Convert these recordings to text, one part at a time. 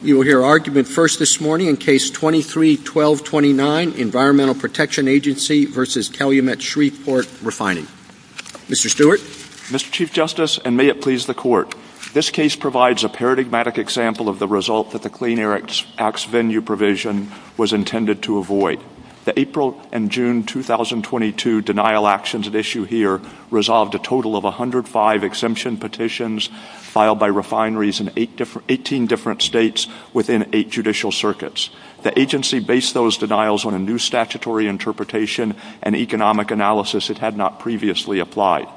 You will hear argument first this morning in Case 23-12-29, Environmental Protection Agency v. Calumet Shreveport Refining. Mr. Stewart. Mr. Chief Justice, and may it please the Court, this case provides a paradigmatic example of the result that the Clean Air Act's venue provision was intended to avoid. The April and June 2022 denial actions at issue here resolved a total of 105 exemption petitions filed by refineries in 18 different states within 8 judicial circuits. The agency based those denials on a new statutory interpretation and economic analysis it had not previously applied.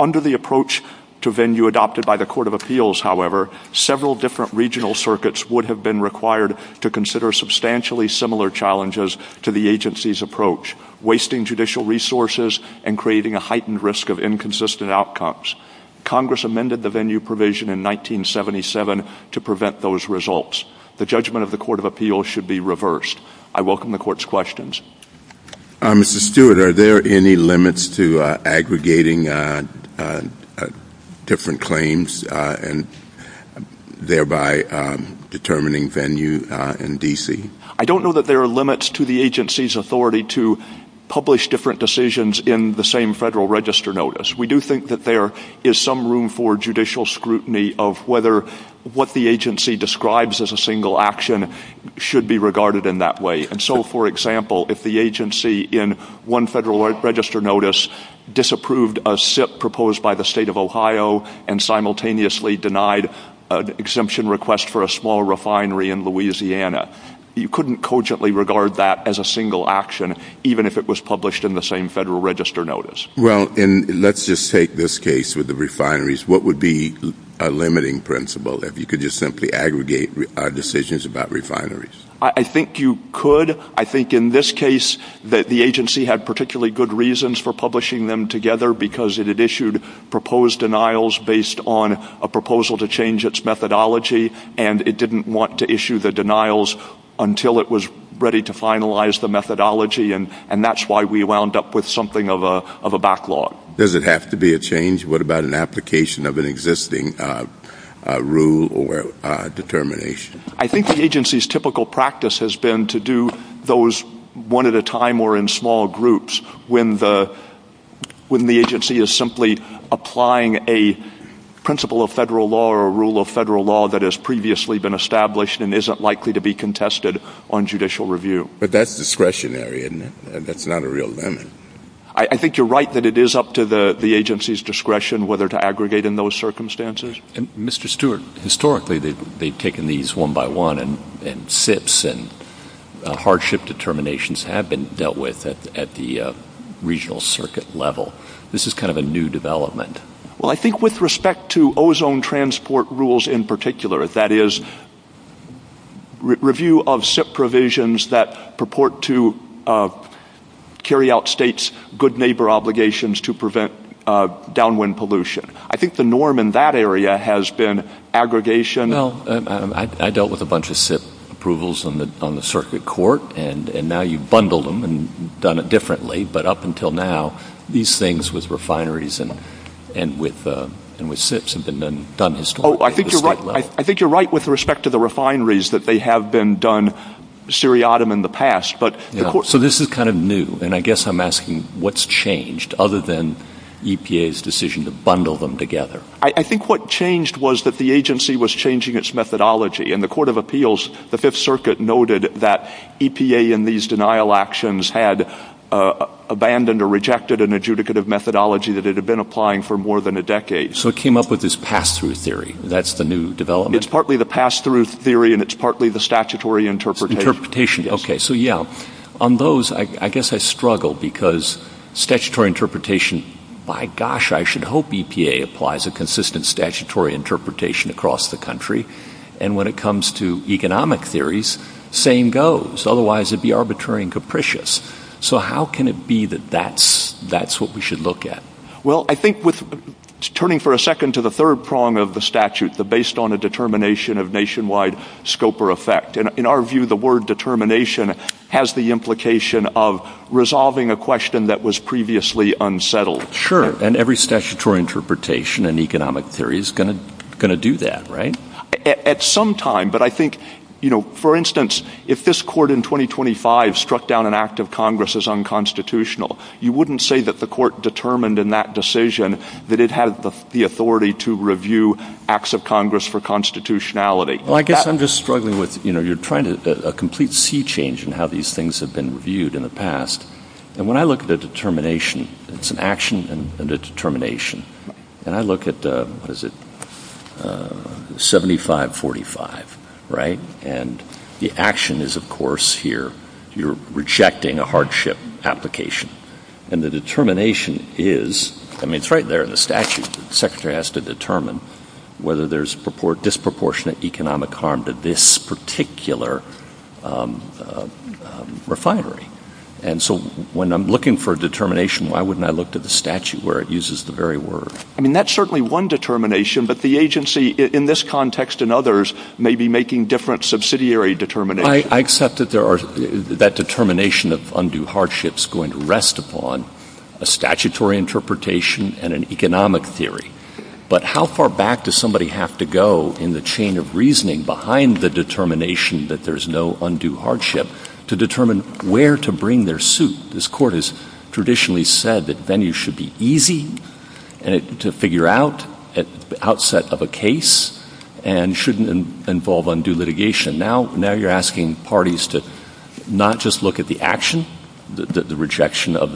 Under the approach to venue adopted by the Court of Appeals, however, several different regional circuits would have been required to consider substantially similar challenges to the agency's approach, wasting judicial resources and creating a heightened risk of inconsistent outcomes. Congress amended the venue provision in 1977 to prevent those results. The judgment of the Court of Appeals should be reversed. I welcome the Court's questions. Mr. Stewart, are there any limits to aggregating different claims and thereby determining venue in D.C.? I don't know that there are limits to the agency's authority to publish different decisions in the same Federal Register Notice. We do think that there is some room for judicial scrutiny of whether what the agency describes as a single action should be regarded in that way. So, for example, if the agency in one Federal Register Notice disapproved a SIP proposed by the State of Ohio and simultaneously denied an exemption request for a small refinery in Louisiana, you couldn't cogently regard that as a single action, even if it was published in the same Federal Register Notice. Well, let's just take this case with the refineries. What would be a limiting principle if you could just simply aggregate decisions about refineries? I think you could. I think in this case that the agency had particularly good reasons for publishing them together because it had issued proposed denials based on a proposal to change its methodology, and it didn't want to issue the denials until it was ready to finalize the methodology, and that's why we wound up with something of a backlog. Does it have to be a change? What about an application of an existing rule or determination? I think the agency's typical practice has been to do those one at a time or in small groups when the agency is simply applying a principle of Federal law or a rule of Federal law that has previously been established and isn't likely to be contested on judicial review. But that's discretionary, isn't it? That's not a real limit. I think you're right that it is up to the agency's discretion whether to aggregate in those circumstances. Mr. Stewart, historically they've taken these one by one, and SIPs and hardship determinations have been dealt with at the regional circuit level. This is kind of a new development. Well, I think with respect to ozone transport rules in particular, that is, review of SIP provisions that purport to carry out states' good neighbor obligations to prevent downwind pollution. I think the norm in that area has been aggregation. I dealt with a bunch of SIP approvals on the circuit court, and now you've bundled them and done it differently. But up until now, these things with refineries and with SIPs have been done historically at the state level. I think you're right with respect to the refineries that they have been done seriatim in the past. So this is kind of new, and I guess I'm asking what's changed other than EPA's decision to bundle them together. I think what changed was that the agency was changing its methodology. In the Court of Appeals, the Fifth Circuit noted that EPA in these denial actions had abandoned or rejected an adjudicative methodology that had been applying for more than a decade. So it came up with this pass-through theory. That's the new development. It's partly the pass-through theory, and it's partly the statutory interpretation. On those, I guess I struggle because statutory interpretation, by gosh, I should hope EPA applies a consistent statutory interpretation across the country. And when it comes to economic theories, same goes. Otherwise, it would be arbitrary and capricious. So how can it be that that's what we should look at? Well, I think turning for a second to the third prong of the statute, the based on a determination of nationwide scope or effect. In our view, the word determination has the implication of resolving a question that was previously unsettled. Sure, and every statutory interpretation in economic theory is going to do that, right? At some time, but I think, for instance, if this court in 2025 struck down an act of Congress as unconstitutional, you wouldn't say that the court determined in that decision that it had the authority to review acts of Congress for constitutionality. Well, I guess I'm just struggling with, you know, you're trying to a complete sea change in how these things have been reviewed in the past. And when I look at the determination, it's an action and a determination. And I look at, what is it, 7545, right? And the action is, of course, here, you're rejecting a hardship application. And the determination is, I mean, it's right there in the statute. The secretary has to determine whether there's disproportionate economic harm to this particular refinery. And so when I'm looking for a determination, why wouldn't I look to the statute where it uses the very word? I mean, that's certainly one determination, but the agency in this context and others may be making different subsidiary determinations. I accept that that determination of undue hardship is going to rest upon a statutory interpretation and an economic theory. But how far back does somebody have to go in the chain of reasoning behind the determination that there's no undue hardship to determine where to bring their suit? This court has traditionally said that venues should be easy to figure out at the outset of a case and shouldn't involve undue litigation. Now you're asking parties to not just look at the action, the rejection of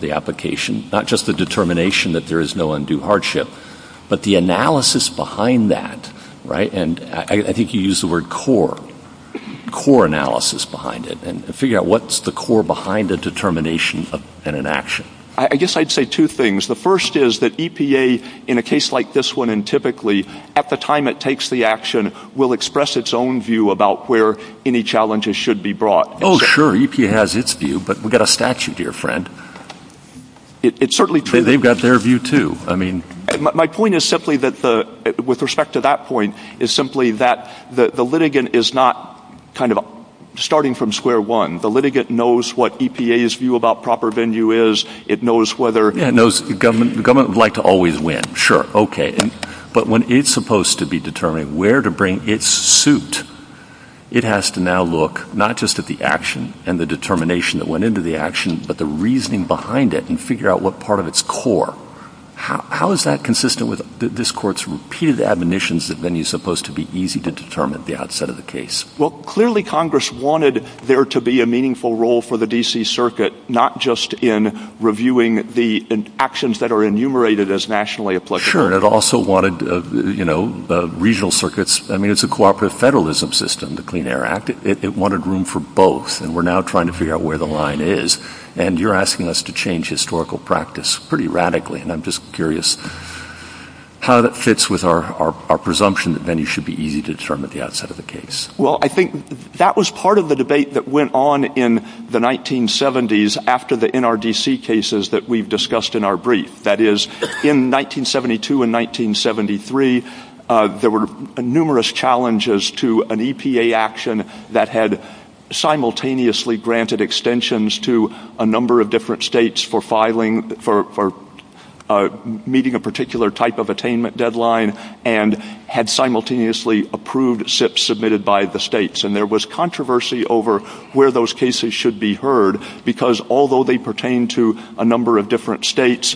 the application, not just the determination that there is no undue hardship, but the analysis behind that, right? And I think you used the word core, core analysis behind it, and figure out what's the core behind the determination and an action. I guess I'd say two things. The first is that EPA, in a case like this one, and typically, at the time it takes the action, will express its own view about where any challenges should be brought. Oh, sure. EPA has its view, but we've got a statute here, friend. It's certainly true. They've got their view, too. My point is simply that, with respect to that point, is simply that the litigant is not kind of starting from square one. The litigant knows what EPA's view about proper venue is. Yeah, it knows the government would like to always win. Sure. Okay. But when it's supposed to be determining where to bring its suit, it has to now look not just at the action and the determination that went into the action, but the reasoning behind it and figure out what part of its core. How is that consistent with this court's repeated admonitions that venue's supposed to be easy to determine at the outset of the case? Well, clearly Congress wanted there to be a meaningful role for the D.C. Circuit, not just in reviewing the actions that are enumerated as nationally applicable. Sure. It also wanted regional circuits. I mean, it's a cooperative federalism system, the Clean Air Act. It wanted room for both, and we're now trying to figure out where the line is. And you're asking us to change historical practice pretty radically, and I'm just curious how that fits with our presumption that venue should be easy to determine at the outset of the case. Well, I think that was part of the debate that went on in the 1970s after the NRDC cases that we've discussed in our brief. That is, in 1972 and 1973, there were numerous challenges to an EPA action that had simultaneously granted extensions to a number of different states for meeting a particular type of attainment deadline and had simultaneously approved SIPs submitted by the states. And there was controversy over where those cases should be heard, because although they pertain to a number of different states,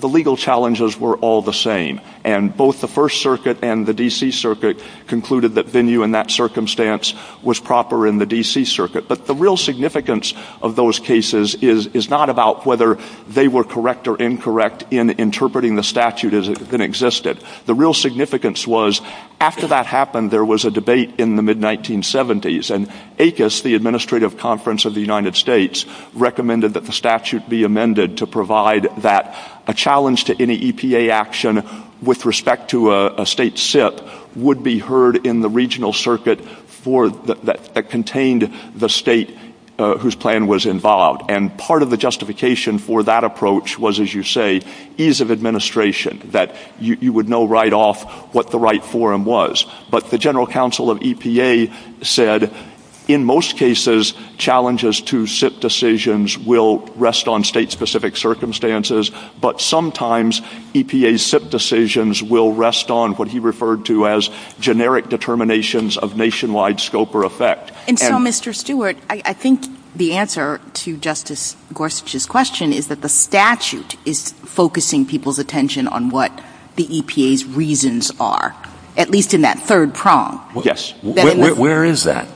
the legal challenges were all the same. And both the First Circuit and the D.C. Circuit concluded that venue in that circumstance was proper in the D.C. Circuit. But the real significance of those cases is not about whether they were correct or incorrect in interpreting the statute as it existed. The real significance was, after that happened, there was a debate in the mid-1970s, and ACUS, the Administrative Conference of the United States, recommended that the statute be amended to provide that a challenge to any EPA action with respect to a state SIP would be heard in the regional circuit that contained the state whose plan was involved. And part of the justification for that approach was, as you say, ease of administration, that you would know right off what the right forum was. But the General Counsel of EPA said, in most cases, challenges to SIP decisions will rest on state-specific circumstances, but sometimes EPA SIP decisions will rest on what he referred to as generic determinations of nationwide scope or effect. And so, Mr. Stewart, I think the answer to Justice Gorsuch's question is that the statute is focusing people's attention on what the EPA's reasons are, at least in that third prong. Yes. Where is that?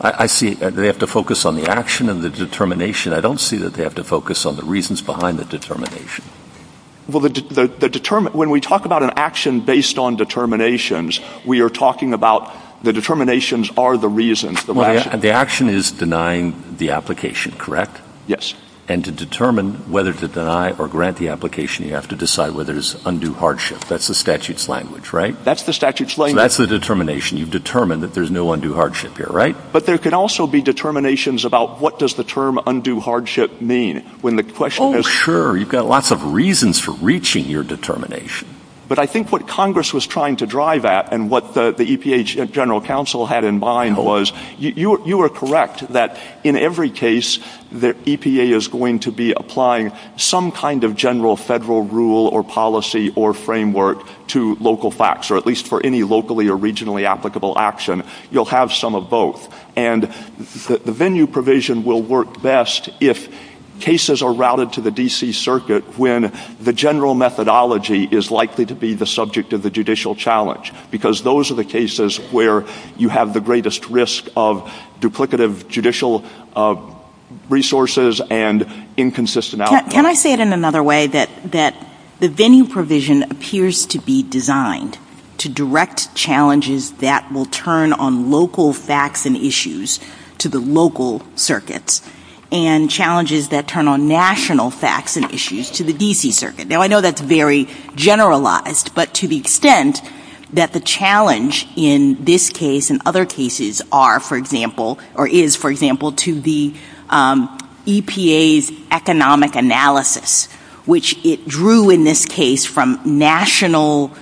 I see that they have to focus on the action and the determination. I don't see that they have to focus on the reasons behind the determination. Well, when we talk about an action based on determinations, we are talking about the determinations are the reasons. The action is denying the application, correct? Yes. And to determine whether to deny or grant the application, you have to decide whether it's undue hardship. That's the statute's language, right? That's the statute's language. That's the determination. You determine that there's no undue hardship here, right? But there could also be determinations about what does the term undue hardship mean? Oh, sure. You've got lots of reasons for reaching your determination. But I think what Congress was trying to drive at and what the EPA General Counsel had in mind was, you are correct that in every case, the EPA is going to be applying some kind of general federal rule or policy or framework to local facts, or at least for any locally or regionally applicable action, you'll have some of both. And the venue provision will work best if cases are routed to the D.C. Circuit when the general methodology is likely to be the subject of the judicial challenge. Because those are the cases where you have the greatest risk of duplicative judicial resources and inconsistencies. Can I say it in another way, that the venue provision appears to be designed to direct challenges that will turn on local facts and issues to the local circuits and challenges that turn on national facts and issues to the D.C. Circuit? Now, I know that's very generalized, but to the extent that the challenge in this case and other cases are, for example, or is, for example, to the EPA's economic analysis, which it drew in this case from national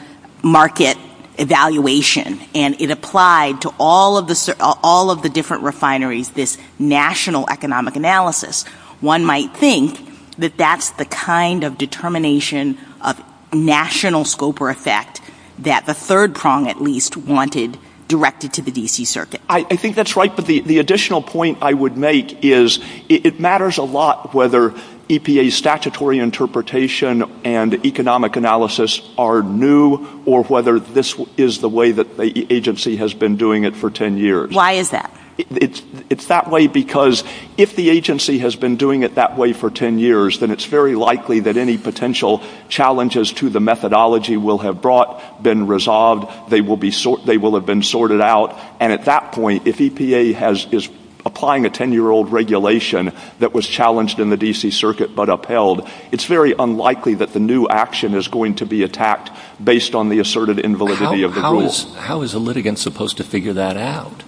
market evaluation and it applied to all of the different refineries this national economic analysis, one might think that that's the kind of determination of national scope or effect that the third prong at least wanted directed to the D.C. Circuit. I think that's right, but the additional point I would make is it matters a lot whether EPA's statutory interpretation and economic analysis are new or whether this is the way that the agency has been doing it for 10 years. Why is that? It's that way because if the agency has been doing it that way for 10 years, then it's very likely that any potential challenges to the methodology will have brought, been resolved, they will have been sorted out. And at that point, if EPA is applying a 10-year-old regulation that was challenged in the D.C. Circuit but upheld, it's very unlikely that the new action is going to be attacked based on the asserted invalidity of the rules. How is a litigant supposed to figure that out?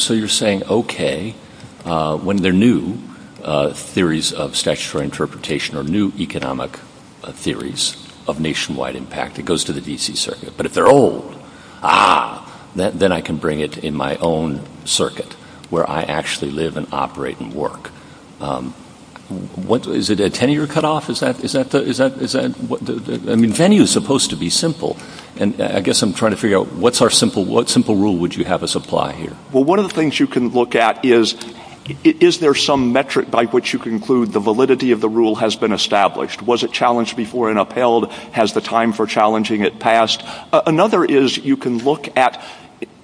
So you're saying, okay, when they're new, theories of statutory interpretation or new economic theories of nationwide impact, it goes to the D.C. Circuit. But if they're old, then I can bring it in my own circuit where I actually live and operate and work. Is it a 10-year cutoff? I mean, 10 years is supposed to be simple. And I guess I'm trying to figure out what simple rule would you have us apply here? Well, one of the things you can look at is, is there some metric by which you conclude the validity of the rule has been established? Was it challenged before and upheld? Has the time for challenging it passed? Another is you can look at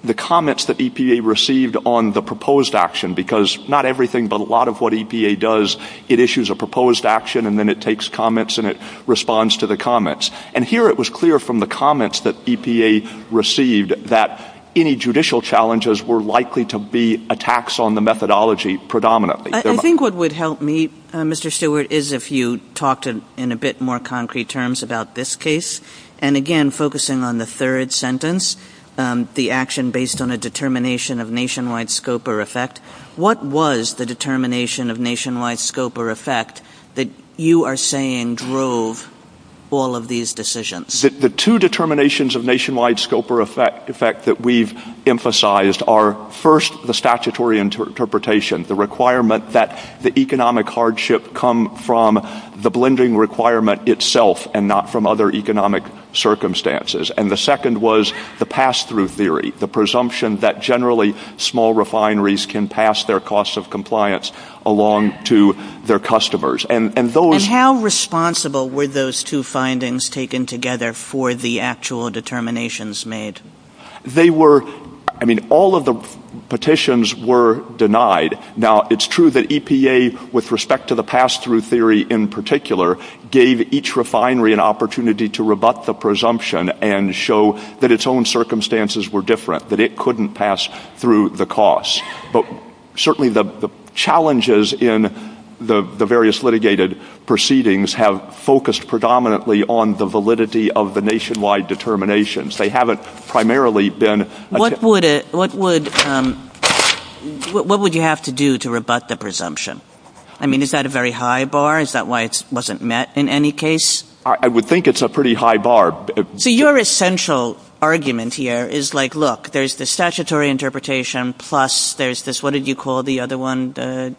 the comments that EPA received on the proposed action because not everything but a lot of what EPA does, it issues a proposed action and then it takes comments and it responds to the comments. And here it was clear from the comments that EPA received that any judicial challenges were likely to be attacks on the methodology predominantly. I think what would help me, Mr. Stewart, is if you talked in a bit more concrete terms about this case. And again, focusing on the third sentence, the action based on a determination of nationwide scope or effect. What was the determination of nationwide scope or effect that you are saying drove all of these decisions? The two determinations of nationwide scope or effect that we've emphasized are, first, the statutory interpretation, the requirement that the economic hardship come from the blending requirement itself and not from other economic circumstances. And the second was the pass-through theory, the presumption that generally small refineries can pass their cost of compliance along to their customers. And how responsible were those two findings taken together for the actual determinations made? All of the petitions were denied. Now, it's true that EPA, with respect to the pass-through theory in particular, gave each refinery an opportunity to rebut the presumption and show that its own circumstances were different, that it couldn't pass through the cost. But certainly the challenges in the various litigated proceedings have focused predominantly on the validity of the nationwide determinations. They haven't primarily been... What would you have to do to rebut the presumption? I mean, is that a very high bar? Is that why it wasn't met in any case? I would think it's a pretty high bar. So your essential argument here is like, look, there's the statutory interpretation plus there's this, what did you call the other one? The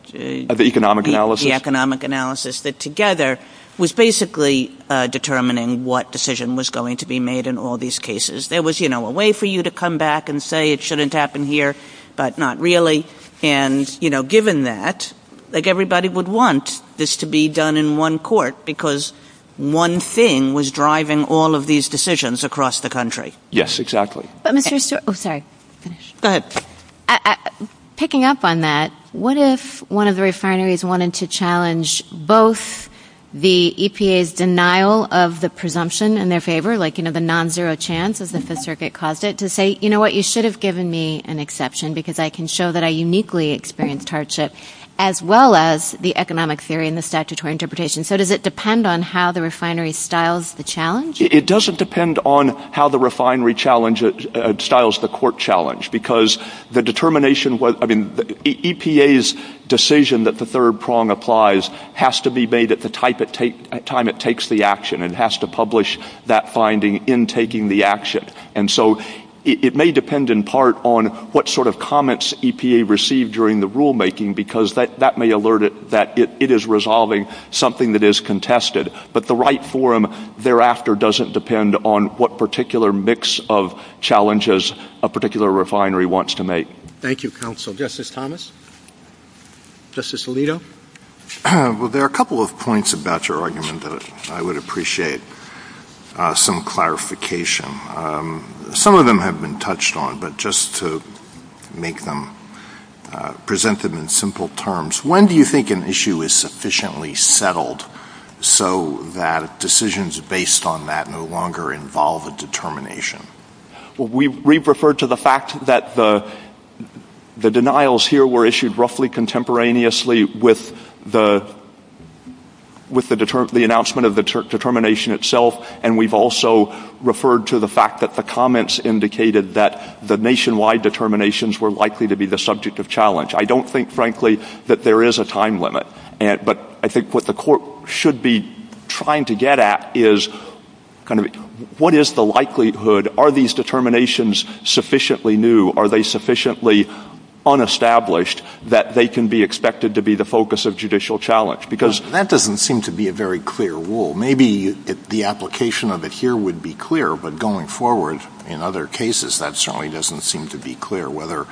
economic analysis. The economic analysis that together was basically determining what decision was going to be made in all these cases. There was a way for you to come back and say it shouldn't happen here, but not really. And given that, everybody would want this to be done in one court because one thing was driving all of these decisions across the country. Yes, exactly. Picking up on that, what if one of the refineries wanted to challenge both the EPA's denial of the presumption in their favor, like the non-zero chance that the circuit caused it to say, you know what, you should have given me an exception because I can show that I uniquely experienced hardship, as well as the economic theory and the statutory interpretation. So does it depend on how the refinery styles the challenge? It doesn't depend on how the refinery styles the court challenge because the determination, I mean, EPA's decision that the third prong applies has to be made at the time it takes the action and has to publish that finding in taking the action. And so it may depend in part on what sort of comments EPA received during the rulemaking because that may alert it that it is resolving something that is contested. But the right forum thereafter doesn't depend on what particular mix of challenges a particular refinery wants to make. Thank you, counsel. Justice Thomas? Justice Alito? Well, there are a couple of points about your argument that I would appreciate some clarification. Some of them have been touched on, but just to make them presented in simple terms, when do you think an issue is sufficiently settled so that decisions based on that no longer involve a determination? Well, we've referred to the fact that the denials here were issued roughly contemporaneously with the announcement of the determination itself, and we've also referred to the fact that the comments indicated that the nationwide determinations were likely to be the subject of challenge. I don't think, frankly, that there is a time limit. But I think what the Court should be trying to get at is kind of what is the likelihood? Are these determinations sufficiently new? Are they sufficiently unestablished that they can be expected to be the focus of judicial challenge? Because that doesn't seem to be a very clear rule. Maybe the application of it here would be clear, but going forward in other cases, that certainly doesn't seem to be clear whether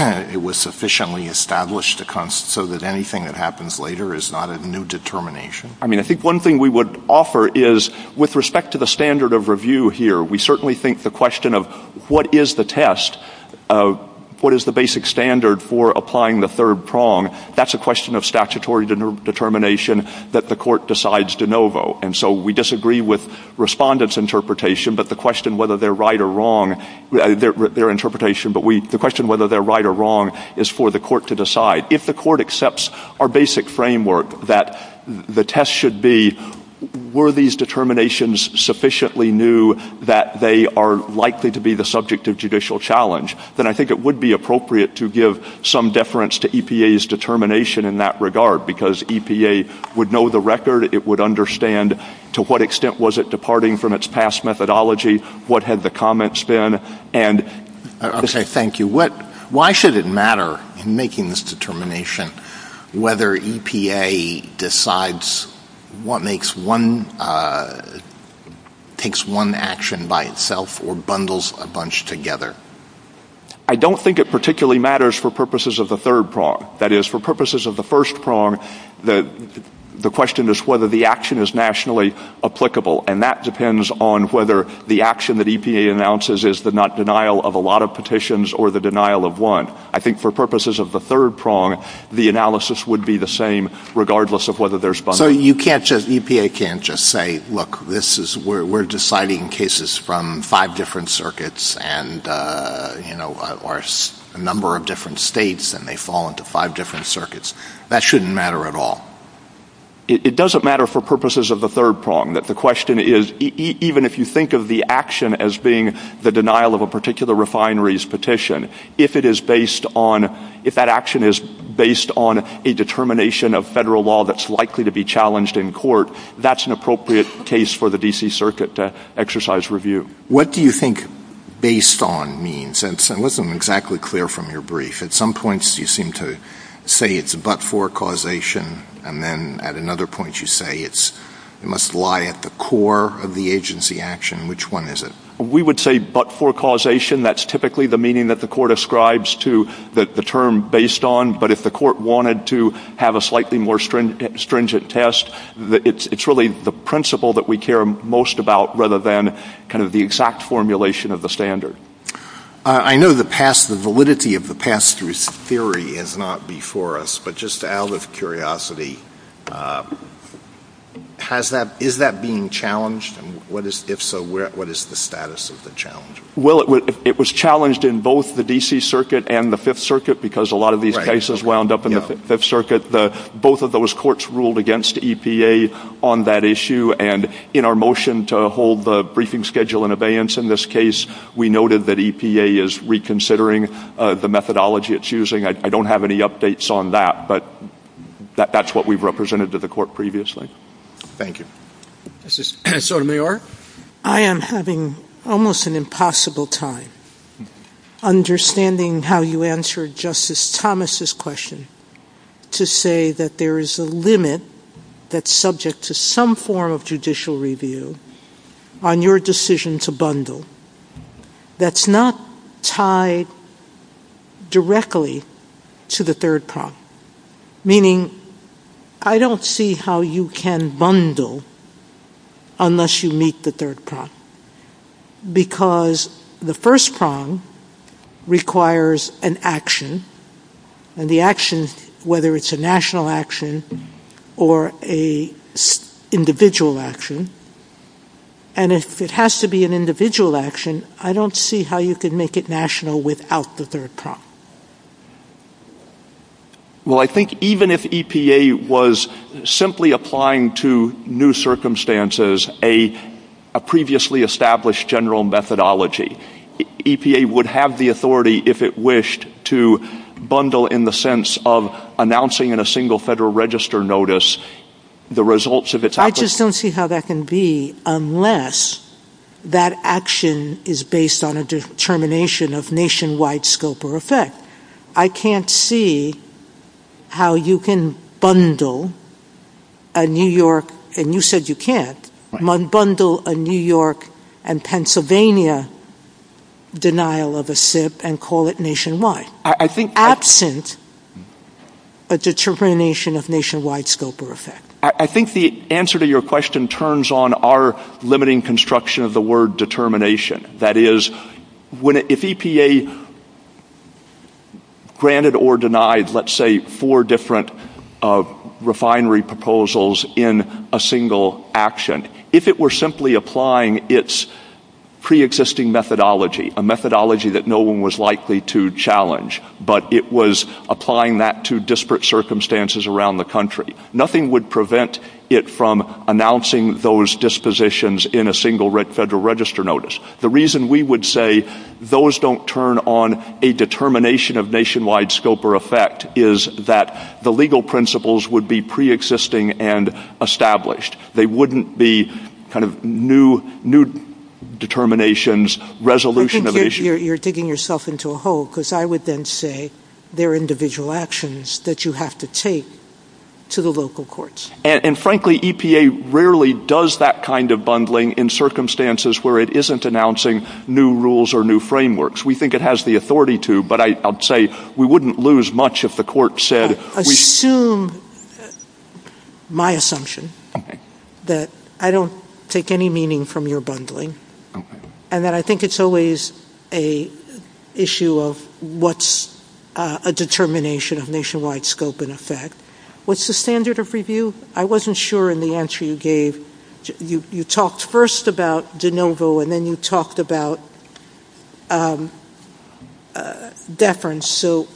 it was sufficiently established so that anything that happens later is not a new determination. I mean, I think one thing we would offer is with respect to the standard of review here, we certainly think the question of what is the test, what is the basic standard for applying the third prong, that's a question of statutory determination that the Court decides de novo. And so we disagree with respondents' interpretation, but the question whether they're right or wrong, their interpretation, but the question whether they're right or wrong is for the Court to decide. If the Court accepts our basic framework that the test should be were these determinations sufficiently new that they are likely to be the subject of judicial challenge, then I think it would be appropriate to give some deference to EPA's determination in that regard, because EPA would know the record, it would understand to what extent was it departing from its past methodology, what had the comments been, and... Okay, thank you. Why should it matter in making this determination whether EPA decides what makes one, takes one action by itself or bundles a bunch together? I don't think it particularly matters for purposes of the third prong. That is, for purposes of the first prong, the question is whether the action is nationally applicable, and that depends on whether the action that EPA announces is the not denial of a lot of petitions or the denial of one. I think for purposes of the third prong, the analysis would be the same regardless of whether there's bundles. So you can't just, EPA can't just say, look, we're deciding cases from five different circuits or a number of different states, and they fall into five different circuits. That shouldn't matter at all. It doesn't matter for purposes of the third prong. The question is, even if you think of the action as being the denial of a particular refinery's petition, if that action is based on a determination of federal law that's likely to be challenged in court, that's an appropriate case for the D.C. Circuit to exercise review. What do you think based on means? I wasn't exactly clear from your brief. At some points you seem to say it's but-for causation, and then at another point you say it must lie at the core of the agency action. Which one is it? We would say but-for causation. That's typically the meaning that the court ascribes to the term based on, but if the court wanted to have a slightly more stringent test, it's really the principle that we care most about rather than kind of the exact formulation of the standard. I know the validity of the pass-through theory is not before us, but just out of curiosity, is that being challenged? If so, what is the status of the challenge? Well, it was challenged in both the D.C. Circuit and the Fifth Circuit because a lot of these cases wound up in the Fifth Circuit. But both of those courts ruled against EPA on that issue, and in our motion to hold the briefing schedule in abeyance in this case, we noted that EPA is reconsidering the methodology it's using. I don't have any updates on that, but that's what we've represented to the court previously. Thank you. Justice Sotomayor? I am having almost an impossible time understanding how you answered Justice Thomas' question to say that there is a limit that's subject to some form of judicial review on your decision to bundle that's not tied directly to the third prompt, meaning I don't see how you can bundle unless you meet the third prompt, because the first prompt requires an action, and the action, whether it's a national action or an individual action, and if it has to be an individual action, I don't see how you can make it national without the third prompt. Well, I think even if EPA was simply applying to new circumstances a previously established general methodology, EPA would have the authority, if it wished, to bundle in the sense of announcing in a single Federal Register notice the results of its application. I just don't see how that can be unless that action is based on a determination of nationwide scope or effect. I can't see how you can bundle a New York, and you said you can't, bundle a New York and Pennsylvania denial of a SIP and call it nationwide, absent a determination of nationwide scope or effect. I think the answer to your question turns on our limiting construction of the word determination. That is, if EPA granted or denied, let's say, four different refinery proposals in a single action, if it were simply applying its preexisting methodology, a methodology that no one was likely to challenge, but it was applying that to disparate circumstances around the country, nothing would prevent it from announcing those dispositions in a single Federal Register notice. The reason we would say those don't turn on a determination of nationwide scope or effect is that the legal principles would be preexisting and established. They wouldn't be kind of new determinations, resolution of issues. You're digging yourself into a hole because I would then say there are individual actions that you have to take to the local courts. And frankly, EPA rarely does that kind of bundling in circumstances where it isn't announcing new rules or new frameworks. We think it has the authority to, but I'll say we wouldn't lose much if the court said... Assume my assumption that I don't take any meaning from your bundling and that I think it's always an issue of what's a determination of nationwide scope and effect. What's the standard of review? I wasn't sure in the answer you gave. You talked first about de novo and then you talked about deference. So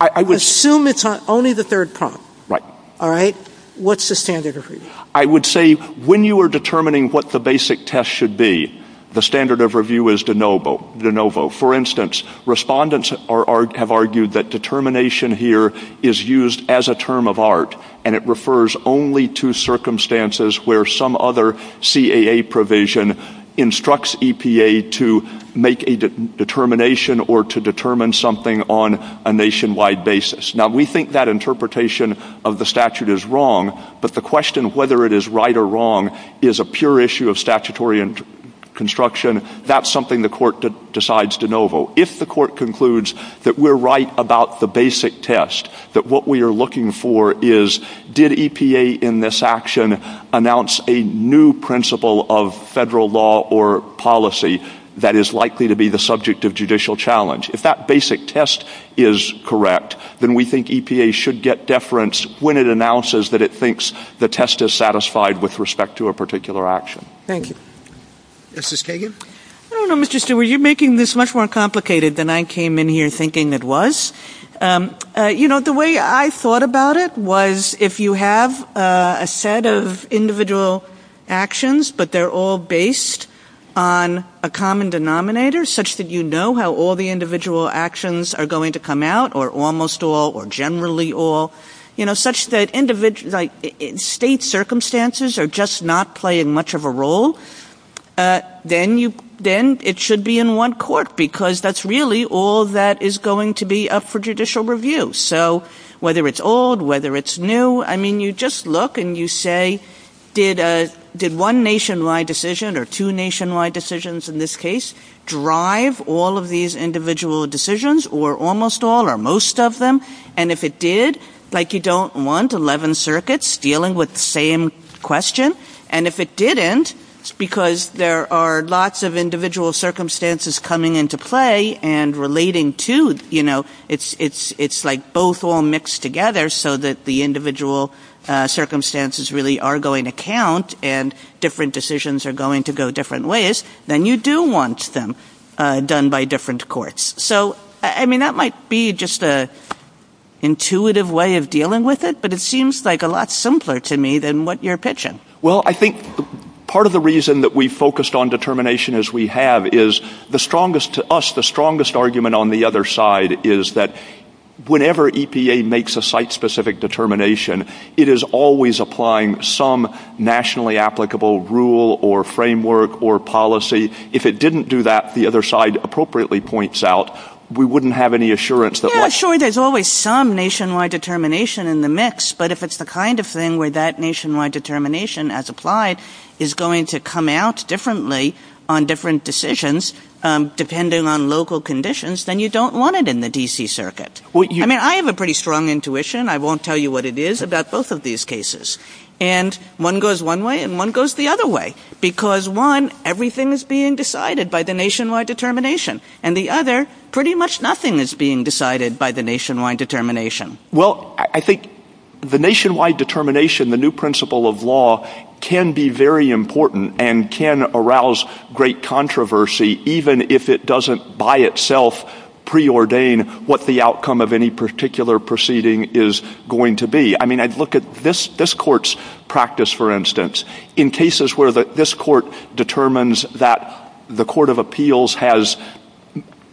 assume it's only the third part. Right. All right? What's the standard of review? I would say when you are determining what the basic test should be, the standard of review is de novo. For instance, respondents have argued that determination here is used as a term of art and it refers only to circumstances where some other CAA provision instructs EPA to make a determination or to determine something on a nationwide basis. Now we think that interpretation of the statute is wrong, but the question of whether it is right or wrong is a pure issue of statutory construction. That's something the court decides de novo. If the court concludes that we're right about the basic test, that what we are looking for is did EPA in this action announce a new principle of federal law or policy that is likely to be the subject of judicial challenge. If that basic test is correct, then we think EPA should get deference when it announces that it thinks the test is satisfied with respect to a particular action. Thank you. Justice Kagan? I don't know, Mr. Stewart. You're making this much more complicated than I came in here thinking it was. You know, the way I thought about it was if you have a set of individual actions, but they're all based on a common denominator such that you know how all the individual actions are going to come out or almost all or generally all, you know, such that state circumstances are just not playing much of a role, then it should be in one court because that's really all that is going to be up for judicial review. So whether it's old, whether it's new, I mean, you just look and you say, did one nationwide decision or two nationwide decisions in this case drive all of these individual decisions or almost all or most of them? And if it did, like you don't want 11 circuits dealing with the same question. And if it didn't, it's because there are lots of individual circumstances coming into play and relating to, you know, it's like both all mixed together so that the individual circumstances really are going to count and different decisions are going to go different ways. Then you do want them done by different courts. So, I mean, that might be just an intuitive way of dealing with it, but it seems like a lot simpler to me than what you're pitching. Well, I think part of the reason that we focused on determination as we have is the strongest, to us the strongest argument on the other side is that whenever EPA makes a site-specific determination, it is always applying some nationally applicable rule or framework or policy. If it didn't do that, the other side appropriately points out, we wouldn't have any assurance. Sure, there's always some nationwide determination in the mix, but if it's the kind of thing where that nationwide determination as applied is going to come out differently on different decisions depending on local conditions, then you don't want it in the D.C. circuit. I mean, I have a pretty strong intuition. I won't tell you what it is about both of these cases. And one goes one way and one goes the other way, because one, everything is being decided by the nationwide determination, and the other, pretty much nothing is being decided by the nationwide determination. Well, I think the nationwide determination, the new principle of law, can be very important and can arouse great controversy even if it doesn't by itself preordain what the outcome of any particular proceeding is going to be. I mean, I'd look at this court's practice, for instance. In cases where this court determines that the court of appeals has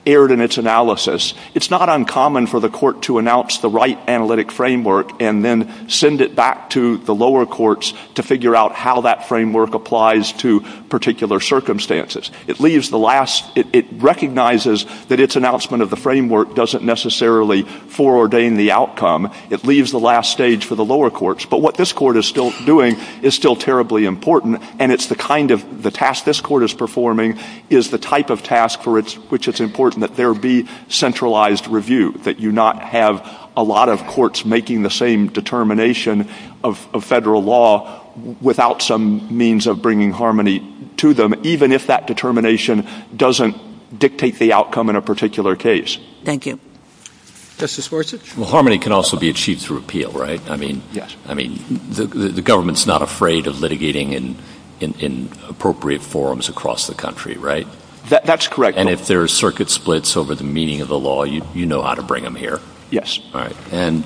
erred in its analysis, it's not uncommon for the court to announce the right analytic framework and then send it back to the lower courts to figure out how that framework applies to particular circumstances. It recognizes that its announcement of the framework doesn't necessarily foreordain the outcome. It leaves the last stage for the lower courts. But what this court is still doing is still terribly important, and the task this court is performing is the type of task for which it's important that there be centralized review, that you not have a lot of courts making the same determination of federal law without some means of bringing harmony to them, even if that determination doesn't dictate the outcome in a particular case. Thank you. Justice Horwitz? Well, harmony can also be achieved through appeal, right? Yes. I mean, the government's not afraid of litigating in appropriate forums across the country, right? That's correct. And if there are circuit splits over the meaning of the law, you know how to bring them here. Yes. All right. And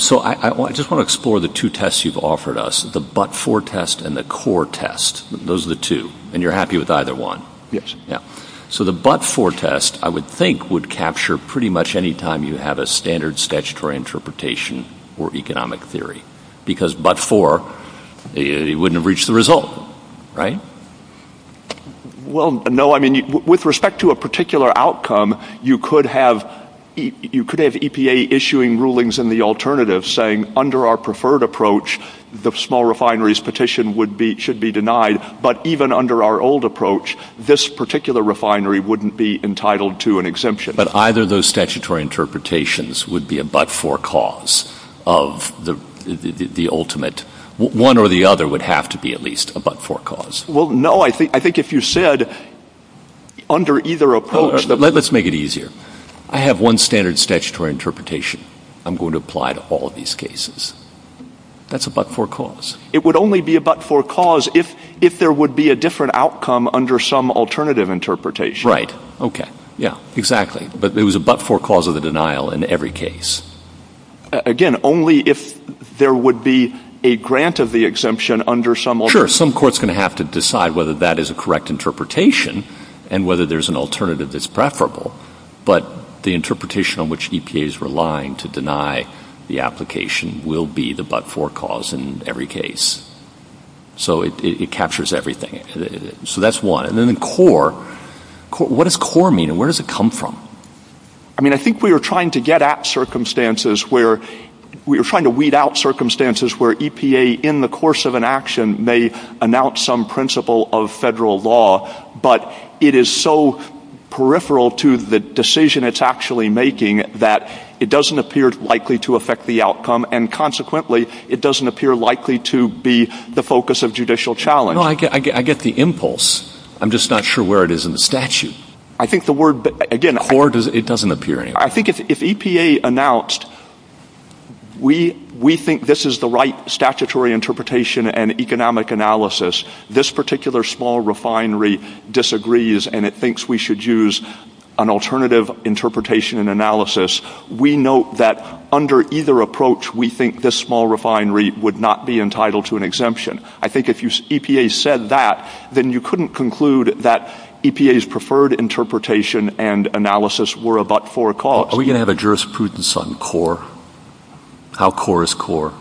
so I just want to explore the two tests you've offered us, the but-for test and the core test. Those are the two. And you're happy with either one? Yes. Yeah. So the but-for test, I would think, would capture pretty much any time you have a standard statutory interpretation or economic theory, because but-for, it wouldn't have reached the result, right? Well, no. I mean, with respect to a particular outcome, you could have EPA issuing rulings in the alternative saying, under our preferred approach, the small refineries petition should be denied, but even under our old approach, this particular refinery wouldn't be entitled to an exemption. But either of those statutory interpretations would be a but-for cause of the ultimate. One or the other would have to be at least a but-for cause. Well, no. I think if you said under either approach that— Let's make it easier. I have one standard statutory interpretation I'm going to apply to all of these cases. That's a but-for cause. It would only be a but-for cause if there would be a different outcome under some alternative interpretation. Right. Okay. Yeah. Exactly. But it was a but-for cause of the denial in every case. Again, only if there would be a grant of the exemption under some alternative— Sure. Some court's going to have to decide whether that is a correct interpretation and whether there's an alternative that's preferable. But the interpretation on which EPA is relying to deny the application will be the but-for cause in every case. So it captures everything. So that's one. And then in CORE, what does CORE mean, and where does it come from? I mean, I think we were trying to get at circumstances where— We were trying to weed out circumstances where EPA, in the course of an action, may announce some principle of federal law, but it is so peripheral to the decision it's actually making that it doesn't appear likely to affect the outcome, and consequently, it doesn't appear likely to be the focus of judicial challenge. No, I get the impulse. I'm just not sure where it is in the statute. I think the word— Again, CORE, it doesn't appear anywhere. I think if EPA announced, we think this is the right statutory interpretation and economic analysis, this particular small refinery disagrees and it thinks we should use an alternative interpretation and analysis, we note that under either approach, we think this small refinery would not be entitled to an exemption. I think if EPA said that, then you couldn't conclude that EPA's preferred interpretation and analysis were but for a cause. Are we going to have a jurisprudence on CORE? How CORE is CORE?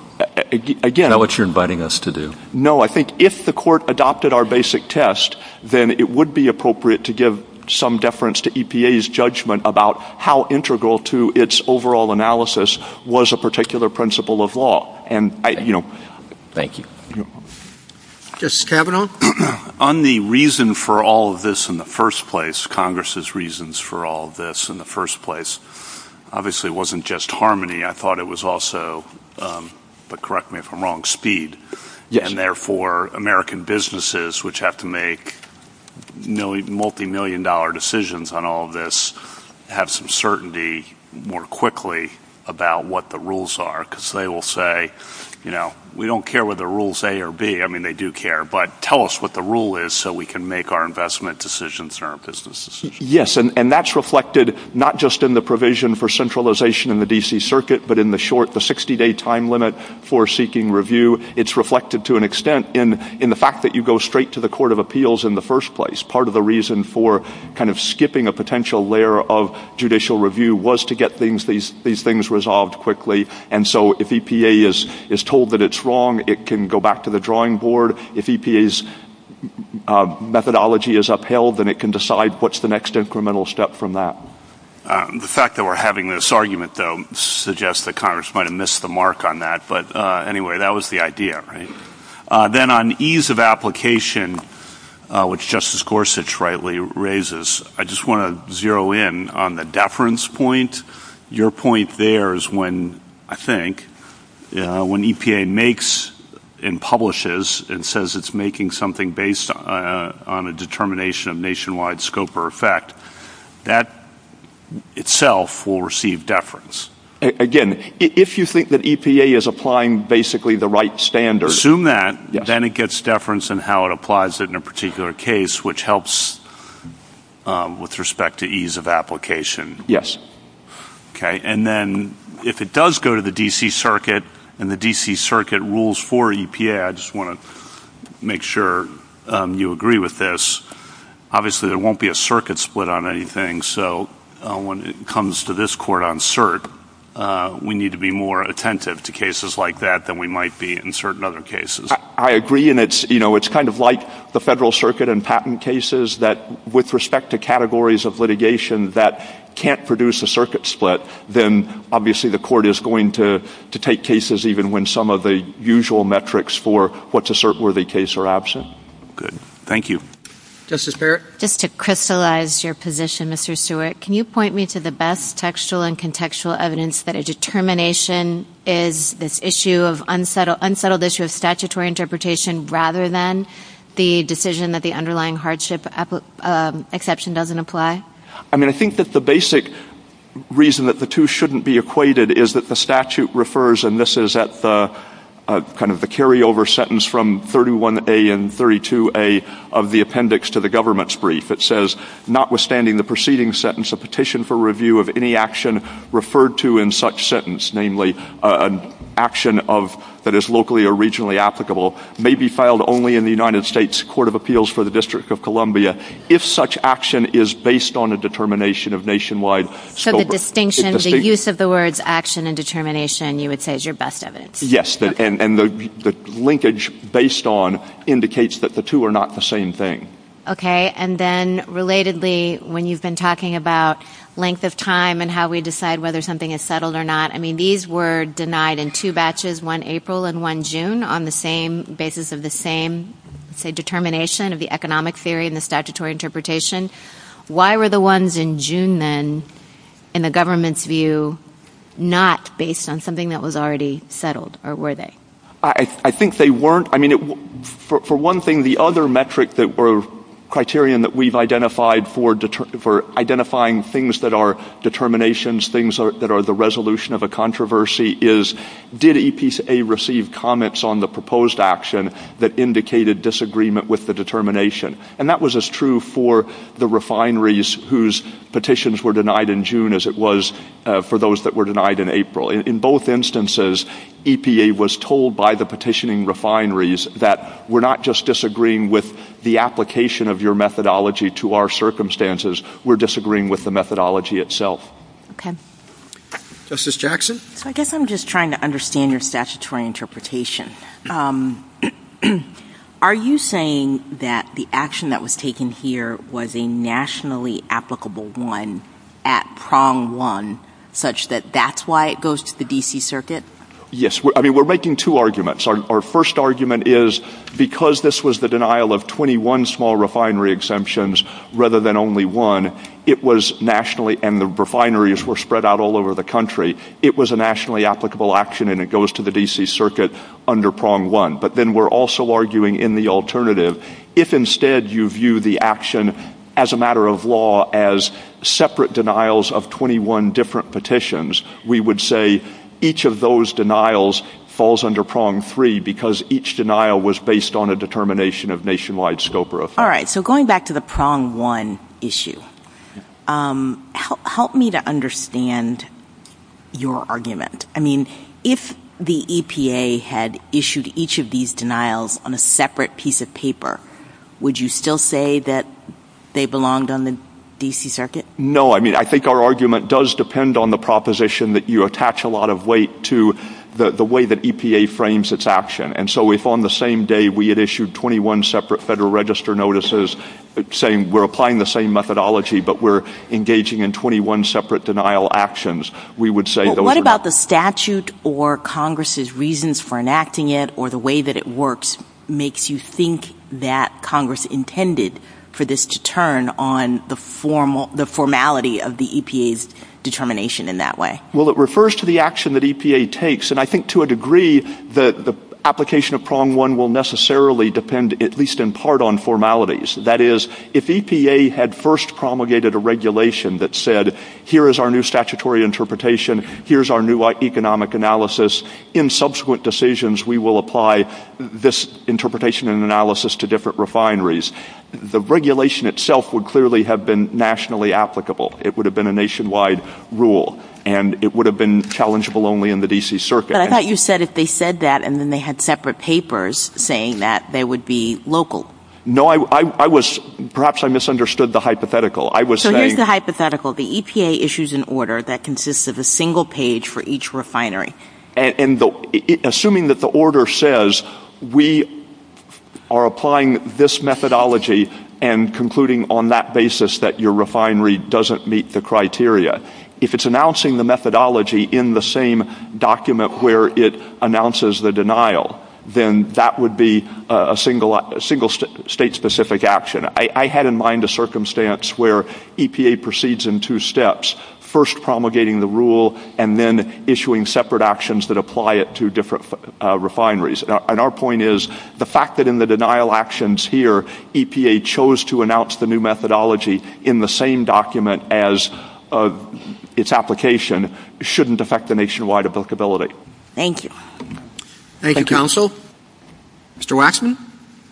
Again— Not what you're inviting us to do. No, I think if the court adopted our basic test, then it would be appropriate to give some deference to EPA's judgment about how integral to its overall analysis was a particular principle of law. Thank you. Justice Kavanaugh? On the reason for all of this in the first place, Congress's reasons for all of this in the first place, obviously it wasn't just harmony. I thought it was also—but correct me if I'm wrong—speed. Yes. And therefore, American businesses, which have to make multimillion-dollar decisions on all of this, have some certainty more quickly about what the rules are, because they will say, you know, we don't care whether the rule is A or B. I mean, they do care, but tell us what the rule is so we can make our investment decisions and our business decisions. Yes, and that's reflected not just in the provision for centralization in the D.C. Circuit, but in the short—the 60-day time limit for seeking review. It's reflected to an extent in the fact that you go straight to the Court of Appeals in the first place. Part of the reason for kind of skipping a potential layer of judicial review was to get these things resolved quickly. And so if EPA is told that it's wrong, it can go back to the drawing board. If EPA's methodology is upheld, then it can decide what's the next incremental step from that. The fact that we're having this argument, though, suggests that Congress might have missed the mark on that. But anyway, that was the idea, right? Then on ease of application, which Justice Gorsuch rightly raises, I just want to zero in on the deference point. Your point there is when, I think, when EPA makes and publishes and says it's making something based on a determination of nationwide scope or effect, that itself will receive deference. Again, if you think that EPA is applying basically the right standards— Assume that, then it gets deference in how it applies it in a particular case, which helps with respect to ease of application. Yes. Okay, and then if it does go to the D.C. Circuit and the D.C. Circuit rules for EPA—I just want to make sure you agree with this— obviously, there won't be a circuit split on anything, so when it comes to this court on cert, we need to be more attentive to cases like that than we might be in certain other cases. I agree, and it's kind of like the Federal Circuit and patent cases, that with respect to categories of litigation that can't produce a circuit split, then obviously the court is going to take cases, even when some of the usual metrics for what's a cert-worthy case are absent. Good. Thank you. Justice Barrett? Just to crystallize your position, Mr. Stewart, can you point me to the best textual and contextual evidence that a determination is this unsettled issue of statutory interpretation rather than the decision that the underlying hardship exception doesn't apply? I mean, I think that the basic reason that the two shouldn't be equated is that the statute refers— this is at the kind of the carryover sentence from 31A and 32A of the appendix to the government's brief. It says, notwithstanding the preceding sentence, a petition for review of any action referred to in such sentence, namely an action that is locally or regionally applicable, may be filed only in the United States Court of Appeals for the District of Columbia if such action is based on a determination of nationwide scope. The distinction, the use of the words action and determination, you would say, is your best evidence. Yes, and the linkage based on indicates that the two are not the same thing. Okay, and then relatedly, when you've been talking about length of time and how we decide whether something is settled or not, I mean, these were denied in two batches, one April and one June, on the same basis of the same, say, determination of the economic theory and the statutory interpretation. Why were the ones in June, then, in the government's view, not based on something that was already settled, or were they? I think they weren't. I mean, for one thing, the other metric or criterion that we've identified for identifying things that are determinations, things that are the resolution of a controversy, is did EPCA receive comments on the proposed action that indicated disagreement with the determination? And that was as true for the refineries whose petitions were denied in June as it was for those that were denied in April. In both instances, EPA was told by the petitioning refineries that we're not just disagreeing with the application of your methodology to our circumstances, we're disagreeing with the methodology itself. Okay. Justice Jackson? I guess I'm just trying to understand your statutory interpretation. Are you saying that the action that was taken here was a nationally applicable one at prong one, such that that's why it goes to the D.C. Circuit? Yes. I mean, we're making two arguments. Our first argument is because this was the denial of 21 small refinery exemptions rather than only one, it was nationally, and the refineries were spread out all over the country, it was a nationally applicable action and it goes to the D.C. Circuit under prong one. But then we're also arguing in the alternative, if instead you view the action as a matter of law as separate denials of 21 different petitions, we would say each of those denials falls under prong three because each denial was based on a determination of nationwide scope or effect. All right. So going back to the prong one issue, help me to understand your argument. I mean, if the EPA had issued each of these denials on a separate piece of paper, would you still say that they belonged on the D.C. Circuit? No. I mean, I think our argument does depend on the proposition that you attach a lot of weight to the way that EPA frames its action. And so if on the same day we had issued 21 separate Federal Register notices saying we're applying the same methodology but we're engaging in 21 separate denial actions, we would say those are not... What about the statute or Congress's reasons for enacting it or the way that it works makes you think that Congress intended for this to turn on the formality of the EPA's determination in that way? Well, it refers to the action that EPA takes, and I think to a degree that the application of prong one will necessarily depend at least in part on formalities. That is, if EPA had first promulgated a regulation that said, here is our new statutory interpretation, here is our new economic analysis, in subsequent decisions we will apply this interpretation and analysis to different refineries, the regulation itself would clearly have been nationally applicable. It would have been a nationwide rule, and it would have been challengeable only in the D.C. Circuit. But I thought you said if they said that and then they had separate papers saying that, they would be local. No, perhaps I misunderstood the hypothetical. So here's the hypothetical. The EPA issues an order that consists of a single page for each refinery. Assuming that the order says we are applying this methodology and concluding on that basis that your refinery doesn't meet the criteria, if it's announcing the methodology in the same document where it announces the denial, then that would be a single state-specific action. I had in mind a circumstance where EPA proceeds in two steps, first promulgating the rule and then issuing separate actions that apply it to different refineries. And our point is the fact that in the denial actions here, EPA chose to announce the new methodology in the same document as its application shouldn't affect the nationwide applicability. Thank you. Thank you, counsel. Mr. Waxman?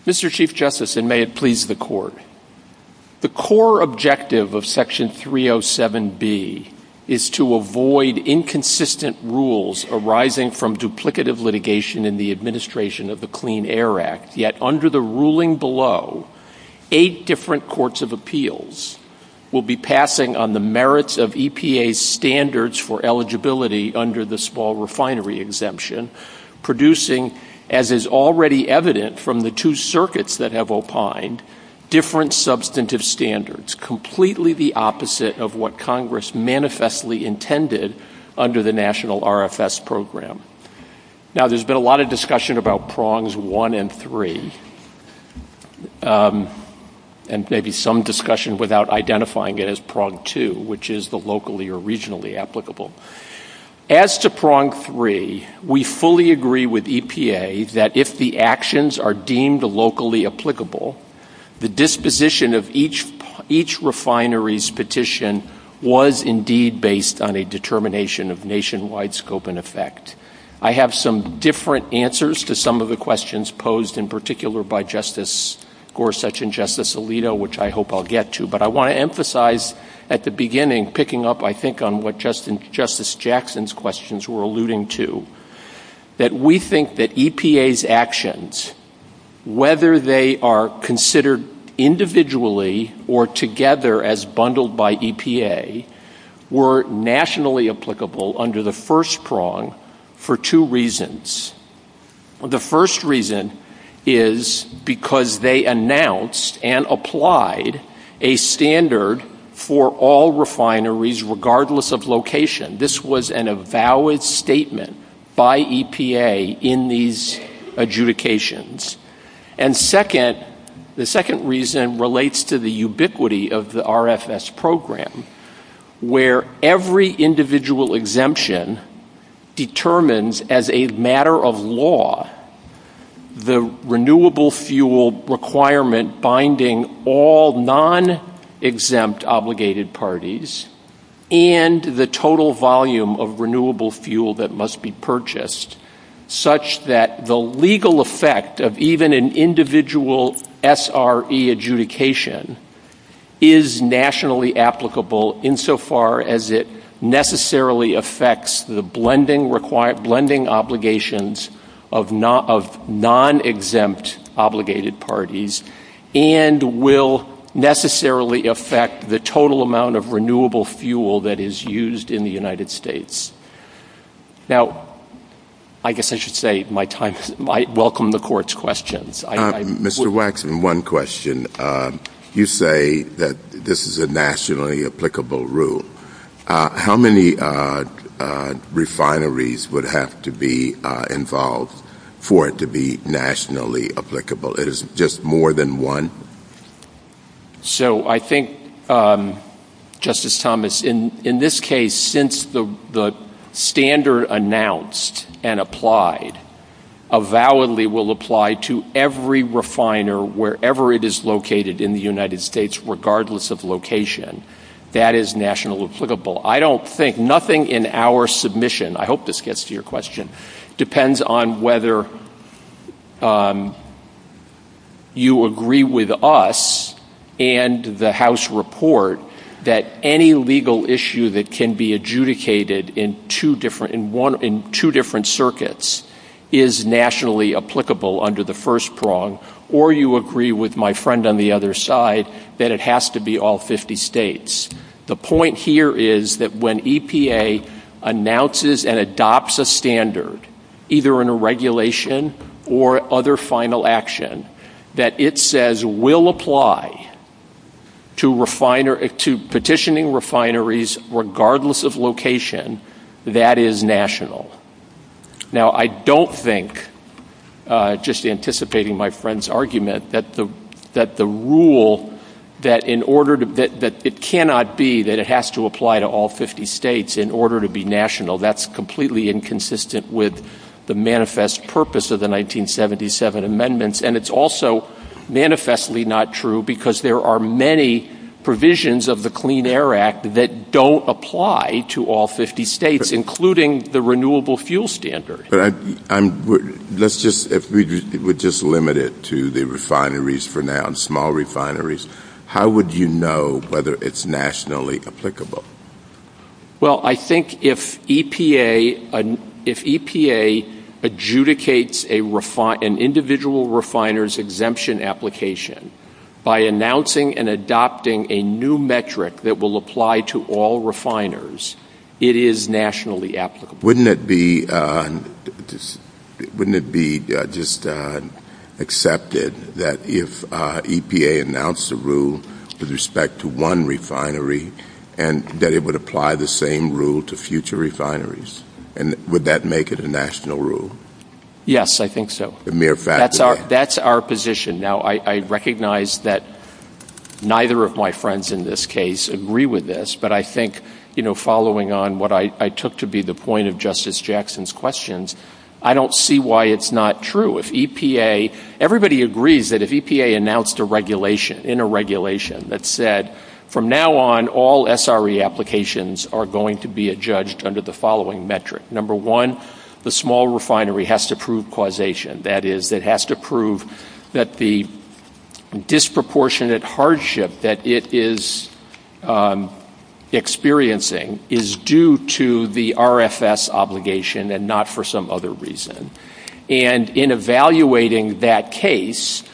Mr. Chief Justice, and may it please the Court, the core objective of Section 307B is to avoid inconsistent rules arising from duplicative litigation in the administration of the Clean Air Act. Yet under the ruling below, eight different courts of appeals will be passing on the merits of EPA's standards for eligibility under the small refinery exemption, producing, as is already evident from the two circuits that have opined, different substantive standards, completely the opposite of what Congress manifestly intended under the National RFS Program. Now, there's been a lot of discussion about prongs one and three, and maybe some discussion without identifying it as prong two, which is the locally or regionally applicable. As to prong three, we fully agree with EPA that if the actions are deemed locally applicable, the disposition of each refinery's petition was indeed based on a determination of nationwide scope and effect. I have some different answers to some of the questions posed in particular by Justice Gorsuch and Justice Alito, which I hope I'll get to, but I want to emphasize at the beginning, picking up, I think, on what Justice Jackson's questions were alluding to, that we think that EPA's actions, whether they are considered individually or together as bundled by EPA, were nationally applicable under the first prong for two reasons. The first reason is because they announced and applied a standard for all refineries, regardless of location. This was a valid statement by EPA in these adjudications. And the second reason relates to the ubiquity of the RFS Program, where every individual exemption determines as a matter of law the renewable fuel requirement binding all non-exempt obligated parties and the total volume of renewable fuel that must be purchased, such that the legal effect of even an individual SRE adjudication is nationally applicable, insofar as it necessarily affects the blending obligations of non-exempt obligated parties and will necessarily affect the total amount of renewable fuel that is used in the United States. Now, I guess I should say I welcome the Court's questions. Mr. Waxman, one question. You say that this is a nationally applicable rule. How many refineries would have to be involved for it to be nationally applicable? Is it just more than one? So I think, Justice Thomas, in this case, since the standard announced and applied, avowedly will apply to every refiner, wherever it is located in the United States, regardless of location. That is nationally applicable. I don't think, nothing in our submission, I hope this gets to your question, depends on whether you agree with us and the House report that any legal issue that can be adjudicated in two different circuits is nationally applicable under the first prong, or you agree with my friend on the other side that it has to be all 50 states. The point here is that when EPA announces and adopts a standard, either in a regulation or other final action, that it says will apply to petitioning refineries, regardless of location, that is national. Now, I don't think, just anticipating my friend's argument, that the rule, that it cannot be that it has to apply to all 50 states in order to be national. That is completely inconsistent with the manifest purpose of the 1977 amendments, and it is also manifestly not true because there are many provisions of the Clean Air Act that don't apply to all 50 states, including the renewable fuel standard. Let's just limit it to the refineries for now, small refineries. How would you know whether it is nationally applicable? Well, I think if EPA adjudicates an individual refiner's exemption application by announcing and adopting a new metric that will apply to all refiners, it is nationally applicable. Wouldn't it be just accepted that if EPA announced a rule with respect to one refinery, that it would apply the same rule to future refineries? Would that make it a national rule? Yes, I think so. That's our position. Now, I recognize that neither of my friends in this case agree with this, but I think following on what I took to be the point of Justice Jackson's questions, I don't see why it's not true. Everybody agrees that if EPA announced a regulation that said, from now on, all SRE applications are going to be adjudged under the following metric. Number one, the small refinery has to prove causation. That is, it has to prove that the disproportionate hardship that it is experiencing is due to the RFS obligation and not for some other reason. And in evaluating that case,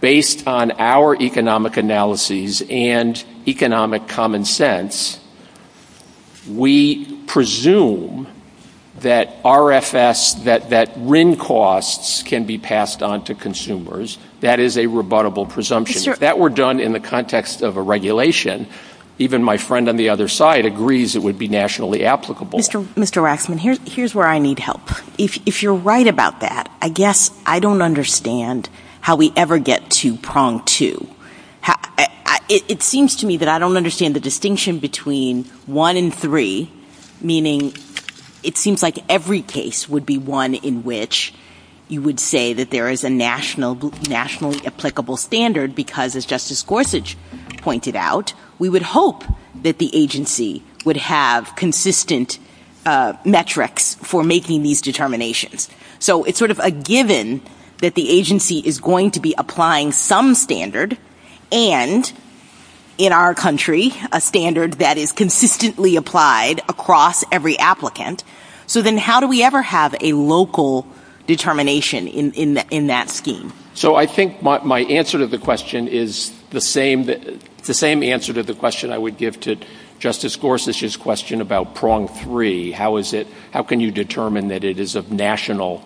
based on our economic analyses and economic common sense, we presume that RFS, that RIN costs can be passed on to consumers. That is a rebuttable presumption. If that were done in the context of a regulation, even my friend on the other side agrees it would be nationally applicable. Mr. Waxman, here's where I need help. If you're right about that, I guess I don't understand how we ever get to prong two. It seems to me that I don't understand the distinction between one and three, meaning it seems like every case would be one in which you would say that there is a nationally applicable standard because, as Justice Gorsuch pointed out, we would hope that the agency would have consistent metrics for making these determinations. So it's sort of a given that the agency is going to be applying some standard and, in our country, a standard that is consistently applied across every applicant. So then how do we ever have a local determination in that scheme? So I think my answer to the question is the same answer to the question I would give to Justice Gorsuch's question about prong three. How can you determine that it is of national—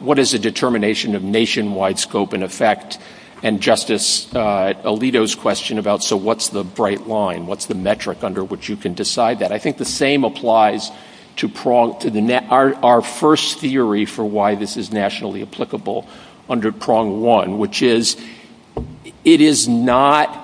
what is the determination of nationwide scope and effect? And Justice Alito's question about, so what's the bright line? What's the metric under which you can decide that? I think the same applies to our first theory for why this is nationally applicable under prong one, which is it is not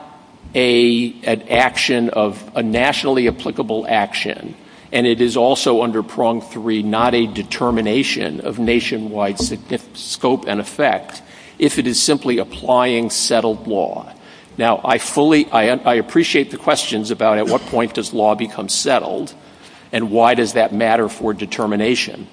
an action of a nationally applicable action, and it is also under prong three not a determination of nationwide scope and effect if it is simply applying settled law. Now, I fully—I appreciate the questions about at what point does law become settled and why does that matter for determination.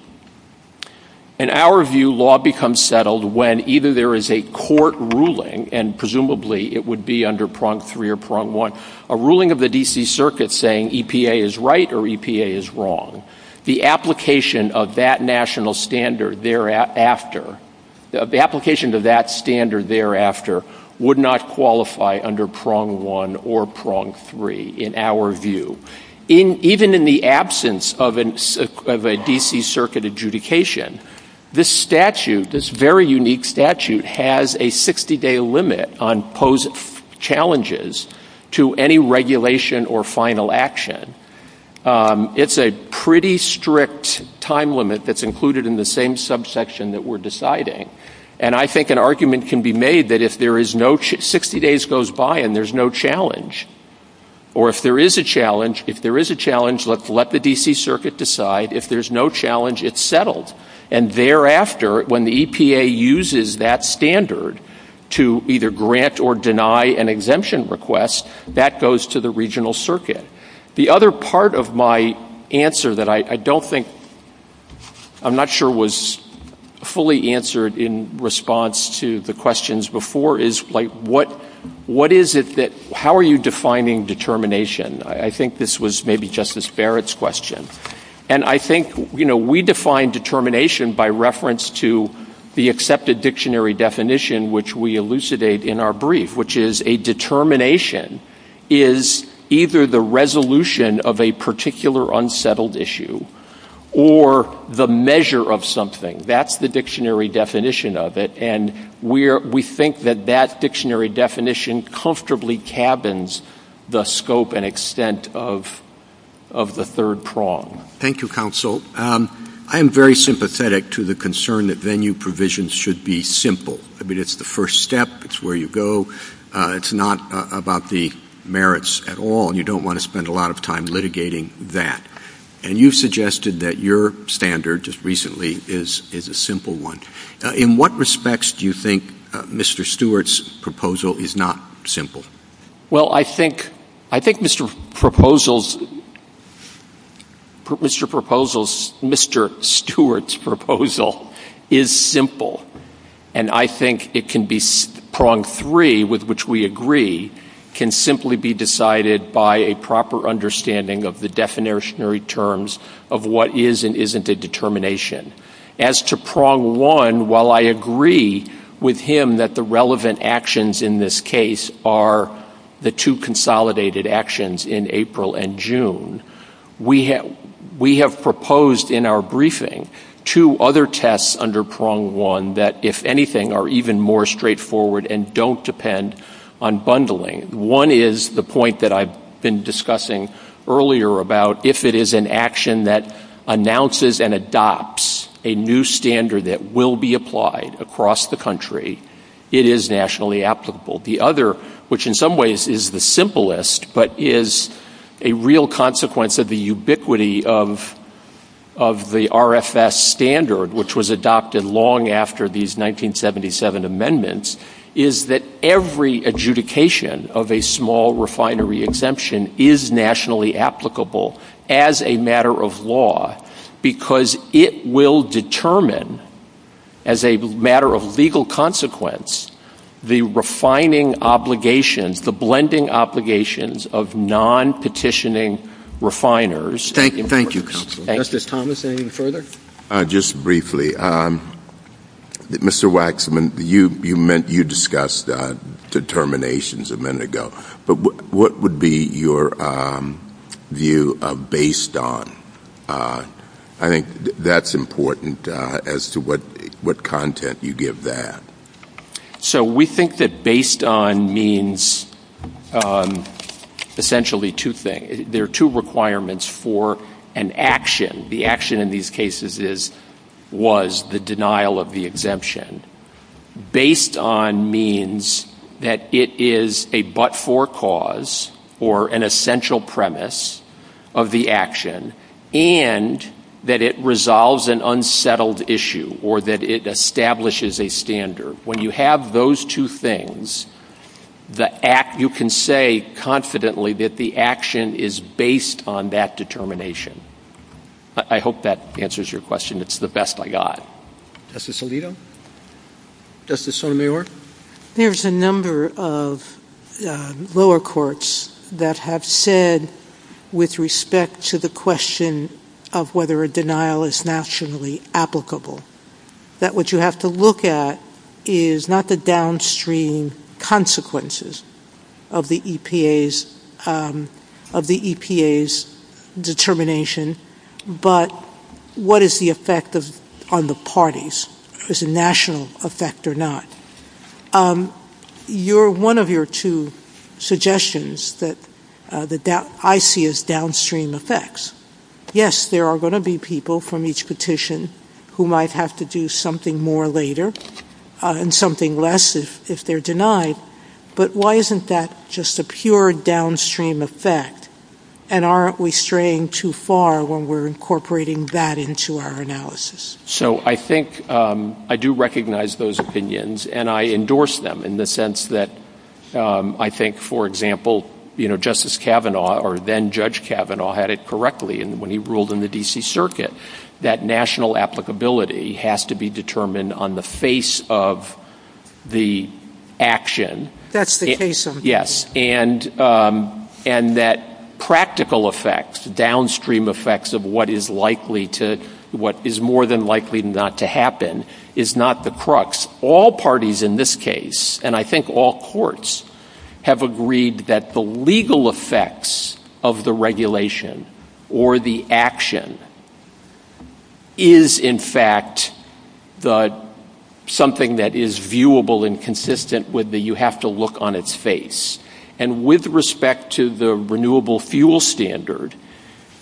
In our view, law becomes settled when either there is a court ruling, and presumably it would be under prong three or prong one, or a ruling of the D.C. Circuit saying EPA is right or EPA is wrong. The application of that national standard thereafter—the application to that standard thereafter would not qualify under prong one or prong three in our view. Even in the absence of a D.C. Circuit adjudication, this statute, this very unique statute, has a 60-day limit on posed challenges to any regulation or final action. It's a pretty strict time limit that's included in the same subsection that we're deciding. And I think an argument can be made that if there is no—60 days goes by and there's no challenge, or if there is a challenge, if there is a challenge, let the D.C. Circuit decide. If there's no challenge, it's settled. And thereafter, when the EPA uses that standard to either grant or deny an exemption request, that goes to the regional circuit. The other part of my answer that I don't think—I'm not sure was fully answered in response to the questions before is what is it that—how are you defining determination? I think this was maybe Justice Barrett's question. And I think we define determination by reference to the accepted dictionary definition, which we elucidate in our brief, which is a determination is either the resolution of a particular unsettled issue or the measure of something. That's the dictionary definition of it. And we think that that dictionary definition comfortably cabins the scope and extent of the third prong. Thank you, Counsel. I am very sympathetic to the concern that venue provisions should be simple. I mean, it's the first step. It's where you go. It's not about the merits at all, and you don't want to spend a lot of time litigating that. And you suggested that your standard just recently is a simple one. In what respects do you think Mr. Stewart's proposal is not simple? Well, I think Mr. Proposal's—Mr. Proposal's—Mr. Stewart's proposal is simple. And I think it can be—prong three, with which we agree, can simply be decided by a proper understanding of the definitionary terms of what is and isn't a determination. As to prong one, while I agree with him that the relevant actions in this case are the two consolidated actions in April and June, we have proposed in our briefing two other tests under prong one that, if anything, are even more straightforward and don't depend on bundling. One is the point that I've been discussing earlier about if it is an action that announces and adopts a new standard that will be applied across the country, it is nationally applicable. The other, which in some ways is the simplest but is a real consequence of the ubiquity of the RFS standard, which was adopted long after these 1977 amendments, is that every adjudication of a small refinery exemption is nationally applicable as a matter of law because it will determine, as a matter of legal consequence, the refining obligation, the blending obligations of non-petitioning refiners. Thank you. Justice Thomas, anything further? Just briefly. Mr. Waxman, you discussed determinations a minute ago, but what would be your view of based on? I think that's important as to what content you give that. So we think that based on means essentially two things. There are two requirements for an action. The action in these cases was the denial of the exemption. Based on means that it is a but-for cause or an essential premise of the action, and that it resolves an unsettled issue or that it establishes a standard. When you have those two things, you can say confidently that the action is based on that determination. I hope that answers your question. It's the best I got. Justice Alito? Justice Sotomayor? There's a number of lower courts that have said with respect to the question of whether a denial is nationally applicable that what you have to look at is not the downstream consequences of the EPA's determination, but what is the effect on the parties? Is it a national effect or not? One of your two suggestions that I see is downstream effects. Yes, there are going to be people from each petition who might have to do something more later and something less if they're denied, but why isn't that just a pure downstream effect, and aren't we straying too far when we're incorporating that into our analysis? So I think I do recognize those opinions, and I endorse them in the sense that I think, for example, Justice Kavanaugh or then-Judge Kavanaugh had it correctly when he ruled in the D.C. Circuit that national applicability has to be determined on the face of the action. That's the case. Yes, and that practical effects, downstream effects of what is more than likely not to happen is not the crux. All parties in this case, and I think all courts, have agreed that the legal effects of the regulation or the action is, in fact, something that is viewable and consistent with the you-have-to-look-on-its-face. And with respect to the renewable fuel standard,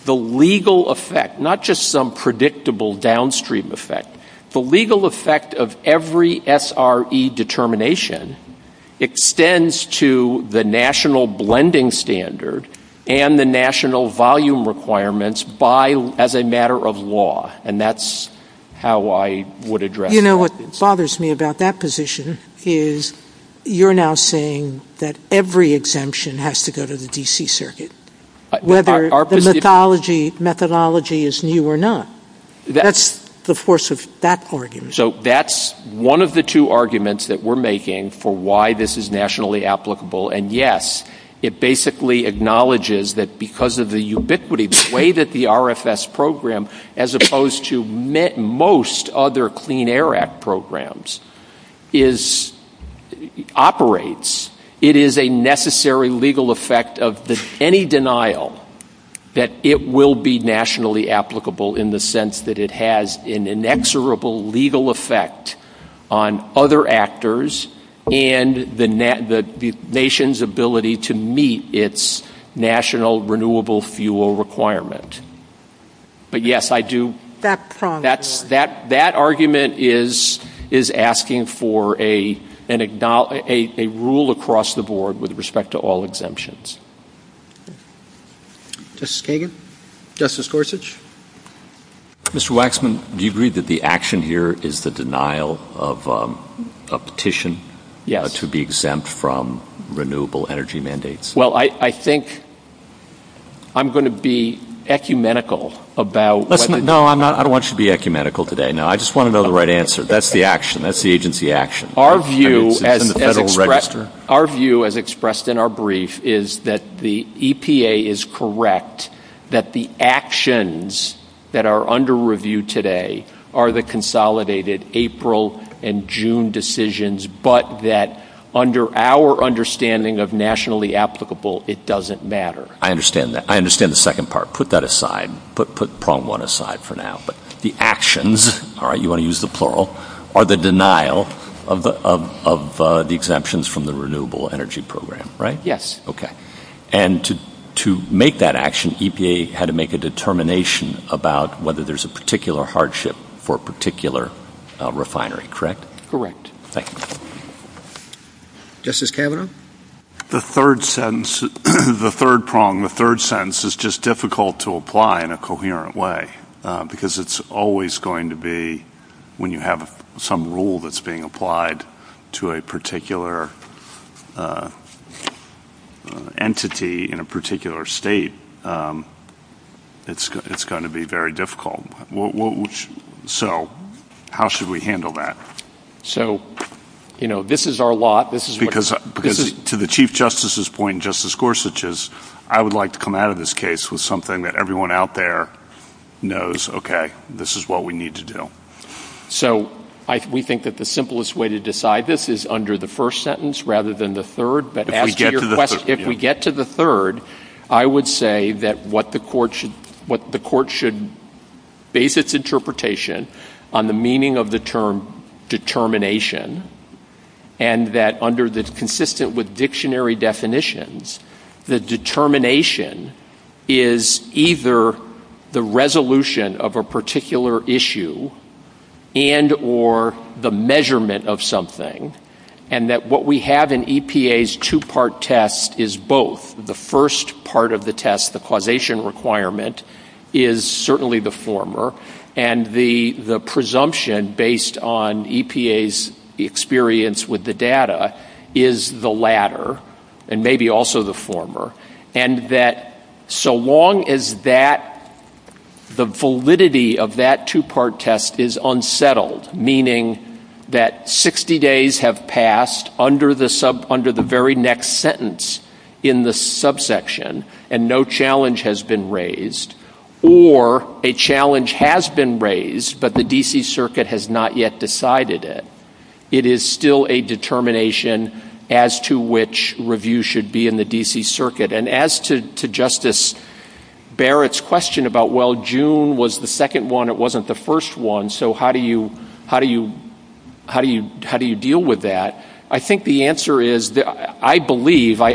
the legal effect, not just some predictable downstream effect, the legal effect of every SRE determination extends to the national blending standard and the national volume requirements as a matter of law, and that's how I would address that. You know what bothers me about that position is you're now saying that every exemption has to go to the D.C. Circuit, whether the methodology is new or not. That's the force of that argument. So that's one of the two arguments that we're making for why this is nationally applicable, and yes, it basically acknowledges that because of the ubiquity, the way that the RFS program, as opposed to most other Clean Air Act programs, operates, it is a necessary legal effect of any denial that it will be nationally applicable in the sense that it has an inexorable legal effect on other actors and the nation's ability to meet its national renewable fuel requirement. But yes, that argument is asking for a rule across the board with respect to all exemptions. Justice Kagan? Justice Gorsuch? Mr. Waxman, do you agree that the action here is the denial of a petition to be exempt from renewable energy mandates? Well, I think I'm going to be ecumenical about what... No, I don't want you to be ecumenical today. No, I just want to know the right answer. That's the action. That's the agency action. Our view, as expressed in our brief, is that the EPA is correct, that the actions that are under review today are the consolidated April and June decisions, but that under our understanding of nationally applicable, it doesn't matter. I understand that. I understand the second part. Put that aside. Put problem one aside for now. But the actions, all right, you want to use the plural, are the denial of the exemptions from the renewable energy program, right? Yes. Okay. And to make that action, EPA had to make a determination about whether there's a particular hardship for a particular refinery. Correct? Correct. Thank you. Justice Kavanaugh? The third sentence, the third prong, the third sentence is just difficult to apply in a coherent way, because it's always going to be when you have some rule that's being applied to a particular entity in a particular state, it's going to be very difficult. So how should we handle that? So, you know, this is our law. Because to the Chief Justice's point, Justice Gorsuch, is I would like to come out of this case with something that everyone out there knows, okay, this is what we need to do. So we think that the simplest way to decide this is under the first sentence rather than the third. If we get to the third, I would say that what the court should base its interpretation on the meaning of the term determination, and that under this consistent with dictionary definitions, the determination is either the resolution of a particular issue and or the measurement of something, and that what we have in EPA's two-part test is both. The first part of the test, the causation requirement, is certainly the former, and the presumption based on EPA's experience with the data is the latter, and maybe also the former, and that so long as the validity of that two-part test is unsettled, meaning that 60 days have passed under the very next sentence in the subsection and no challenge has been raised, or a challenge has been raised but the D.C. Circuit has not yet decided it, it is still a determination as to which review should be in the D.C. Circuit. And as to Justice Barrett's question about, well, June was the second one, it wasn't the first one, so how do you deal with that? I think the answer is, I believe, I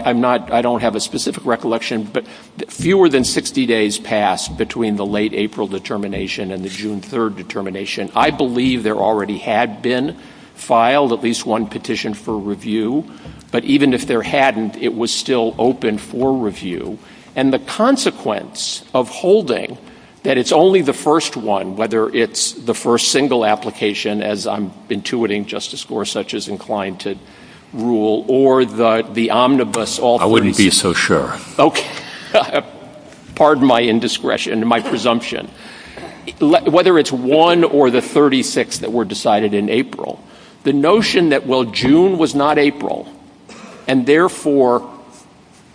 don't have a specific recollection, but fewer than 60 days passed between the late April determination and the June 3rd determination. I believe there already had been filed at least one petition for review, but even if there hadn't, it was still open for review. And the consequence of holding that it's only the first one, whether it's the first single application, as I'm intuiting, Justice Gorsuch, is inclined to rule, or the omnibus... I wouldn't be so sure. Pardon my indiscretion, my presumption. Whether it's one or the 36 that were decided in April, the notion that, well, June was not April, and therefore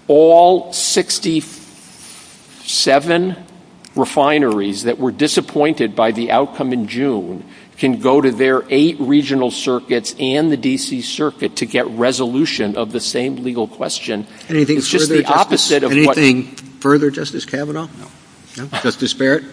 all 67 refineries that were disappointed by the outcome in June can go to their eight regional circuits and the D.C. Circuit to get resolution of the same legal question. Anything further, Justice Kavanaugh? Justice Barrett?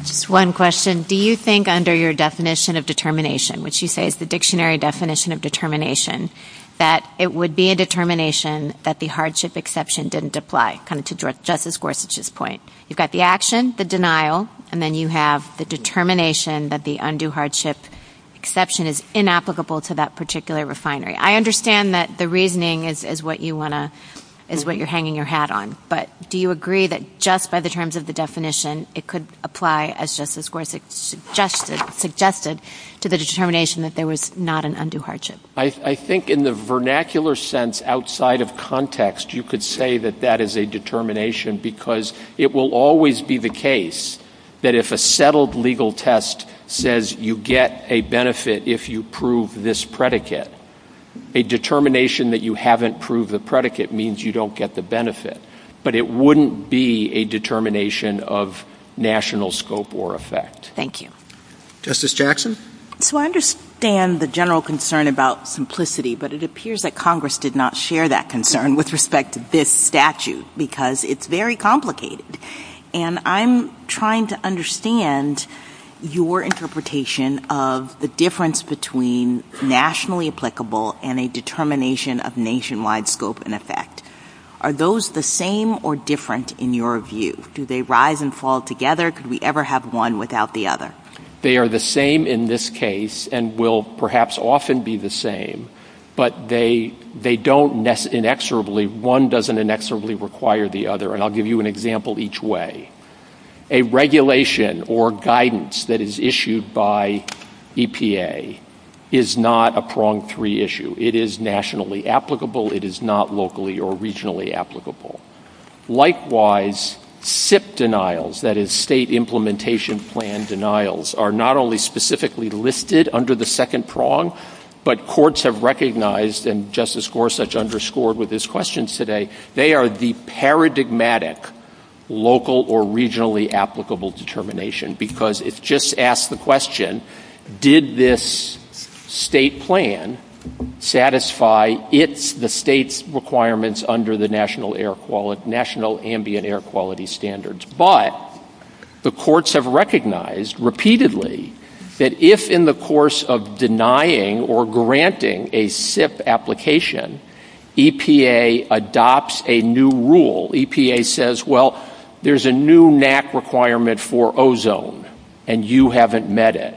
Just one question. Do you think under your definition of determination, which you say is the dictionary definition of determination, that it would be a determination that the hardship exception didn't apply, kind of to Justice Gorsuch's point? You've got the action, the denial, and then you have the determination that the undue hardship exception is inapplicable to that particular refinery. I understand that the reasoning is what you're hanging your hat on, but do you agree that just by the terms of the definition, it could apply, as Justice Gorsuch suggested, to the determination that there was not an undue hardship? I think in the vernacular sense, outside of context, you could say that that is a determination because it will always be the case that if a settled legal test says you get a benefit if you prove this predicate, a determination that you haven't proved the predicate means you don't get the benefit. But it wouldn't be a determination of national scope or effect. Thank you. Justice Jackson? So I understand the general concern about simplicity, but it appears that Congress did not share that concern with respect to this statute because it's very complicated. And I'm trying to understand your interpretation of the difference between nationally applicable and a determination of nationwide scope and effect. Are those the same or different in your view? Do they rise and fall together? Could we ever have one without the other? They are the same in this case and will perhaps often be the same, but they don't inexorably, one doesn't inexorably require the other. And I'll give you an example each way. A regulation or guidance that is issued by EPA is not a prong three issue. It is nationally applicable. It is not locally or regionally applicable. Likewise, SIP denials, that is state implementation plan denials, are not only specifically listed under the second prong, but courts have recognized, and Justice Gorsuch underscored with his questions today, they are the paradigmatic local or regionally applicable determination because it just asks the question, did this state plan satisfy the state's requirements under the national ambient air quality standards? But the courts have recognized repeatedly that if in the course of denying or granting a SIP application, EPA adopts a new rule. EPA says, well, there's a new NAC requirement for ozone, and you haven't met it.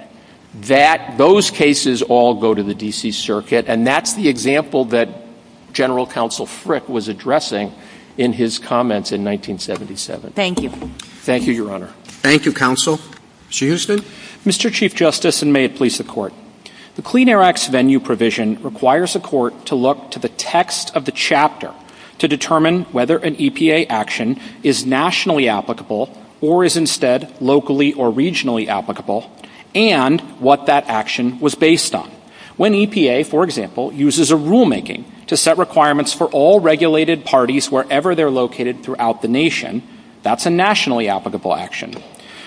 Those cases all go to the D.C. Circuit, and that's the example that General Counsel Frick was addressing in his comments in 1977. Thank you. Thank you, Your Honor. Thank you, Counsel. Mr. Houston. Mr. Chief Justice, and may it please the Court. The Clean Air Act's venue provision requires the Court to look to the text of the chapter to determine whether an EPA action is nationally applicable or is instead locally or regionally applicable and what that action was based on. When EPA, for example, uses a rulemaking to set requirements for all regulated parties wherever they're located throughout the nation, that's a nationally applicable action.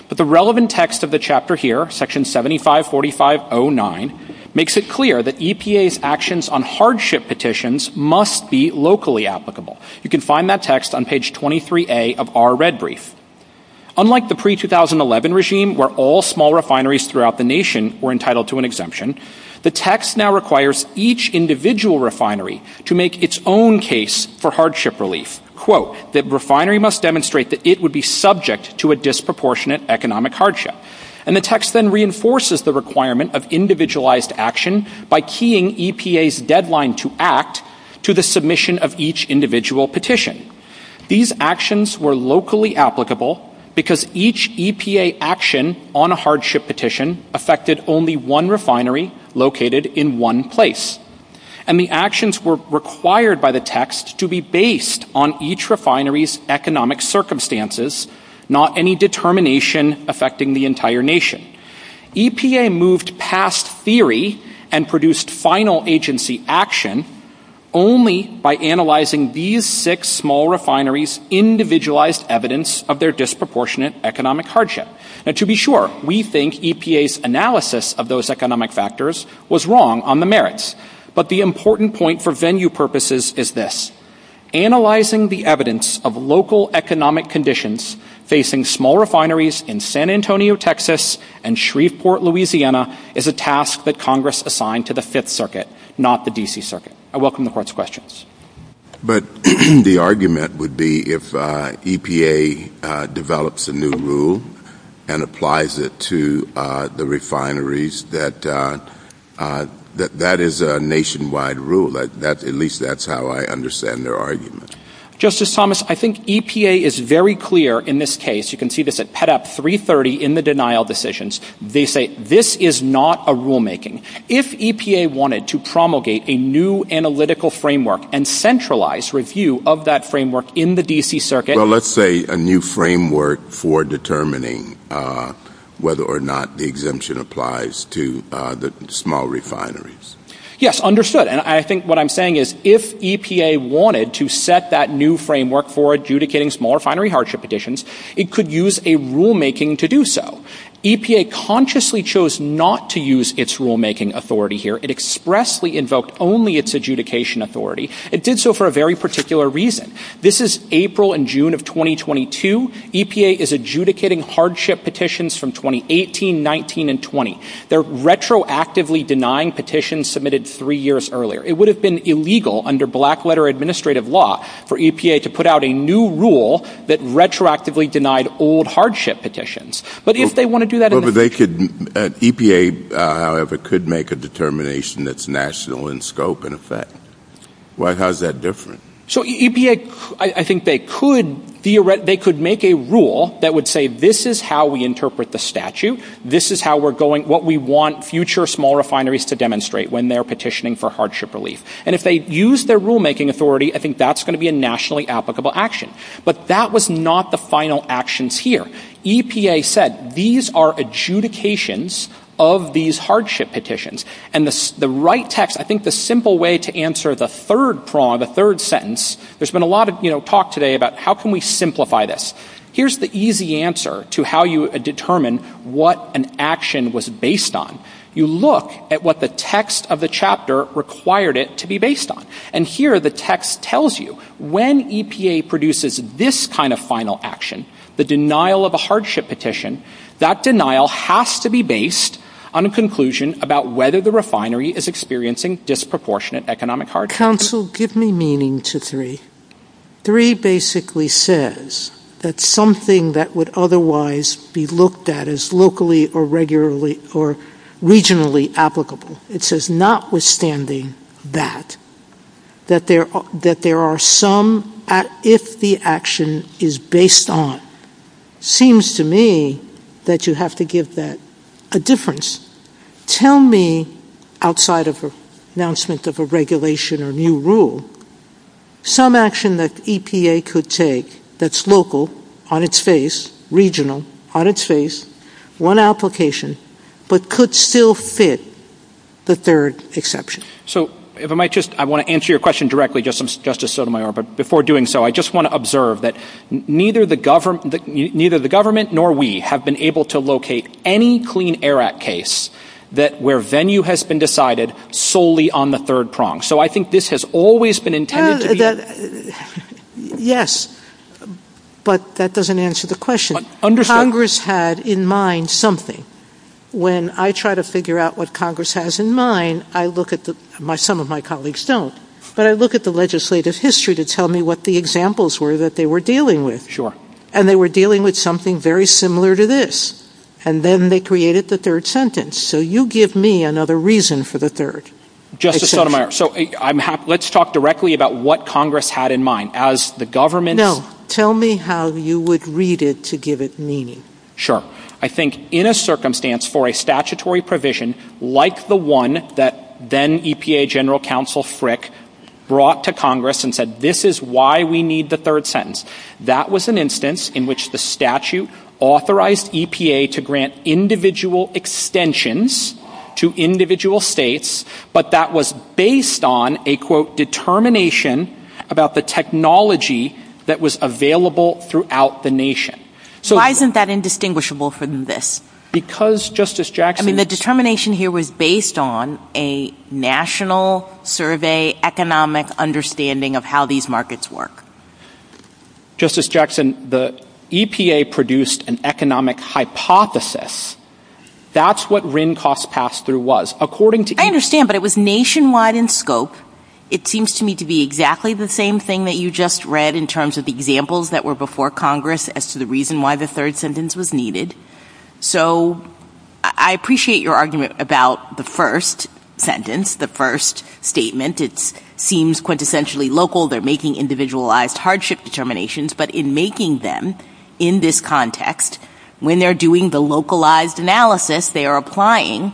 But the relevant text of the chapter here, section 7545.09, makes it clear that EPA's actions on hardship petitions must be locally applicable. You can find that text on page 23A of our red brief. Unlike the pre-2011 regime where all small refineries throughout the nation were entitled to an exemption, the text now requires each individual refinery to make its own case for hardship relief. Quote, that refinery must demonstrate that it would be subject to a disproportionate economic hardship. And the text then reinforces the requirement of individualized action by keying EPA's deadline to act to the submission of each individual petition. These actions were locally applicable because each EPA action on a hardship petition affected only one refinery located in one place. And the actions were required by the text to be based on each refinery's economic circumstances, not any determination affecting the entire nation. EPA moved past theory and produced final agency action only by analyzing these six small refineries' individualized evidence of their disproportionate economic hardship. To be sure, we think EPA's analysis of those economic factors was wrong on the merits. But the important point for venue purposes is this. Analyzing the evidence of local economic conditions facing small refineries in San Antonio, Texas, and Shreveport, Louisiana, is a task that Congress assigned to the Fifth Circuit, not the D.C. Circuit. I welcome the Court's questions. But the argument would be if EPA develops a new rule and applies it to the refineries, that that is a nationwide rule. At least that's how I understand their argument. Justice Thomas, I think EPA is very clear in this case. You can see this at PETA 330 in the denial decisions. They say this is not a rulemaking. If EPA wanted to promulgate a new analytical framework and centralize review of that framework in the D.C. Circuit Well, let's say a new framework for determining whether or not the exemption applies to the small refineries. Yes, understood. And I think what I'm saying is if EPA wanted to set that new framework for adjudicating small refinery hardship additions, it could use a rulemaking to do so. EPA consciously chose not to use its rulemaking authority here. It expressly invoked only its adjudication authority. It did so for a very particular reason. This is April and June of 2022. EPA is adjudicating hardship petitions from 2018, 19, and 20. They're retroactively denying petitions submitted three years earlier. It would have been illegal under black-letter administrative law for EPA to put out a new rule that retroactively denied old hardship petitions. EPA, however, could make a determination that's national in scope and effect. How is that different? So EPA, I think they could make a rule that would say this is how we interpret the statute. This is what we want future small refineries to demonstrate when they're petitioning for hardship relief. And if they use their rulemaking authority, I think that's going to be a nationally applicable action. But that was not the final actions here. EPA said these are adjudications of these hardship petitions. And the right text, I think the simple way to answer the third problem, the third sentence, there's been a lot of talk today about how can we simplify this. Here's the easy answer to how you determine what an action was based on. You look at what the text of the chapter required it to be based on. And here the text tells you when EPA produces this kind of final action, the denial of a hardship petition, that denial has to be based on a conclusion about whether the refinery is experiencing disproportionate economic hardship. Counsel, give me meaning to three. Three basically says that something that would otherwise be looked at as locally or regionally applicable. It says notwithstanding that, that there are some, if the action is based on, seems to me that you have to give that a difference. Tell me outside of an announcement of a regulation or new rule, some action that EPA could take that's local on its face, regional on its face, one application, but could still fit the third exception. So if I might just, I want to answer your question directly, Justice Sotomayor, but before doing so, I just want to observe that neither the government nor we have been able to locate any Clean Air Act case where venue has been decided solely on the third prong. So I think this has always been intended to be... Yes, but that doesn't answer the question. Congress had in mind something. When I try to figure out what Congress has in mind, I look at, some of my colleagues don't, but I look at the legislative history to tell me what the examples were that they were dealing with. And they were dealing with something very similar to this. And then they created the third sentence. So you give me another reason for the third. Justice Sotomayor, so let's talk directly about what Congress had in mind. As the government... No, tell me how you would read it to give it meaning. Sure. I think in a circumstance for a statutory provision like the one that then EPA General Counsel Frick brought to Congress and said, this is why we need the third sentence. That was an instance in which the statute authorized EPA to grant individual extensions to individual states, but that was based on a, quote, determination about the technology that was available throughout the nation. Why isn't that indistinguishable from this? Because, Justice Jackson... I mean, the determination here was based on a national survey economic understanding of how these markets work. Justice Jackson, the EPA produced an economic hypothesis. That's what RIN costs pass-through was. I understand, but it was nationwide in scope. It seems to me to be exactly the same thing that you just read in terms of the examples that were before Congress as to the reason why the third sentence was needed. So I appreciate your argument about the first sentence, the first statement. It seems quintessentially local. They're making individualized hardship determinations. But in making them in this context, when they're doing the localized analysis, they are applying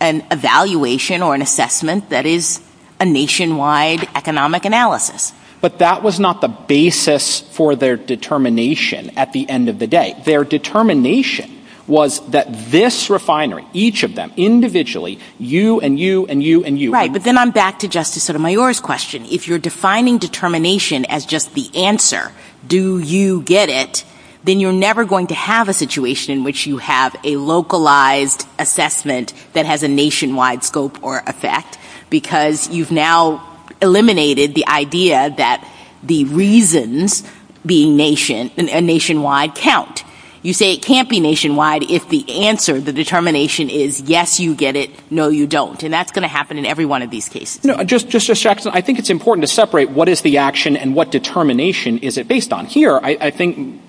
an evaluation or an assessment that is a nationwide economic analysis. But that was not the basis for their determination at the end of the day. Their determination was that this refinery, each of them, individually, you and you and you and you... Right, but then I'm back to Justice Sotomayor's question. If you're defining determination as just the answer, do you get it, then you're never going to have a situation in which you have a localized assessment that has a nationwide scope or effect, because you've now eliminated the idea that the reasons being nationwide count. You say it can't be nationwide if the answer, the determination, is yes, you get it, no, you don't. And that's going to happen in every one of these cases. Justice Jackson, I think it's important to separate what is the action and what determination is it based on. Here, I think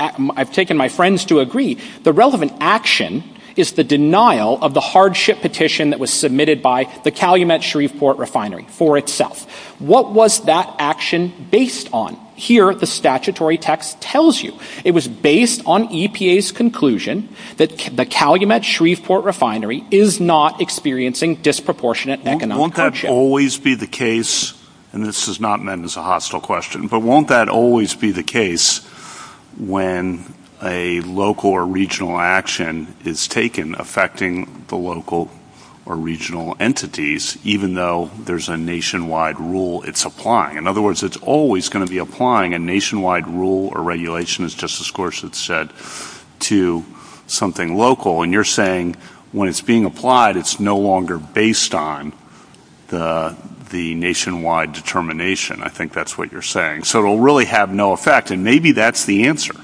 I've taken my friends to agree, the relevant action is the denial of the hardship petition that was submitted by the Calumet-Shreveport Refinery for itself. What was that action based on? Here, the statutory text tells you it was based on EPA's conclusion that the Calumet-Shreveport Refinery is not experiencing disproportionate economic hardship. Won't that always be the case, and this is not meant as a hostile question, but won't that always be the case when a local or regional action is taken affecting the local or regional entities, even though there's a nationwide rule it's applying? In other words, it's always going to be applying a nationwide rule or regulation, as Justice Gorsuch said, to something local. And you're saying when it's being applied, it's no longer based on the nationwide determination. I think that's what you're saying. So it'll really have no effect, and maybe that's the answer.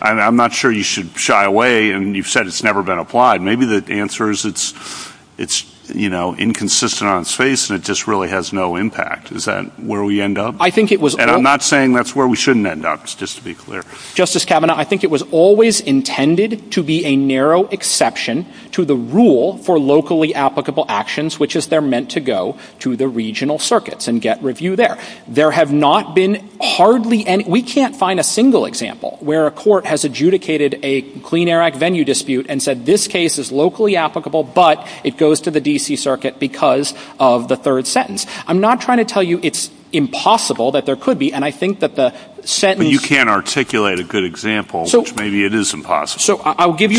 I'm not sure you should shy away and you've said it's never been applied. Maybe the answer is it's inconsistent on its face and it just really has no impact. Is that where we end up? And I'm not saying that's where we shouldn't end up, just to be clear. Justice Kavanaugh, I think it was always intended to be a narrow exception to the rule for locally applicable actions, which is they're meant to go to the regional circuits and get review there. There have not been hardly any. We can't find a single example where a court has adjudicated a Clean Air Act venue dispute and said this case is locally applicable, but it goes to the D.C. Circuit because of the third sentence. I'm not trying to tell you it's impossible that there could be, and I think that the sentence But you can't articulate a good example which maybe it is impossible. So I will give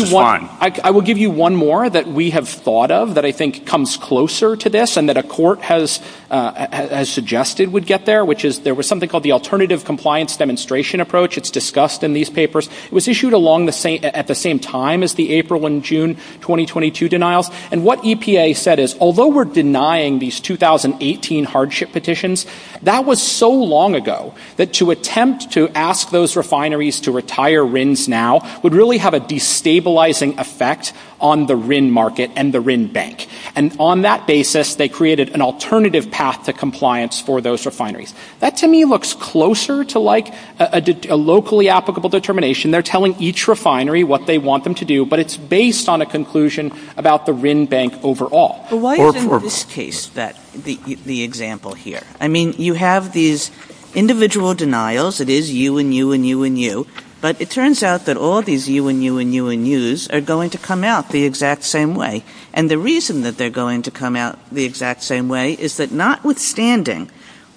you one more that we have thought of that I think comes closer to this and that a court has suggested would get there, which is there was something called the Alternative Compliance Demonstration Approach. It's discussed in these papers. It was issued at the same time as the April and June 2022 denials. And what EPA said is although we're denying these 2018 hardship petitions, that was so long ago that to attempt to ask those refineries to retire RINs now would really have a destabilizing effect on the RIN market and the RIN bank. And on that basis, they created an alternative path to compliance for those refineries. That to me looks closer to like a locally applicable determination. They're telling each refinery what they want them to do, but it's based on a conclusion about the RIN bank overall. Well, why isn't this case the example here? I mean, you have these individual denials. It is you and you and you and you. But it turns out that all these you and you and you and yous are going to come out the exact same way. And the reason that they're going to come out the exact same way is that notwithstanding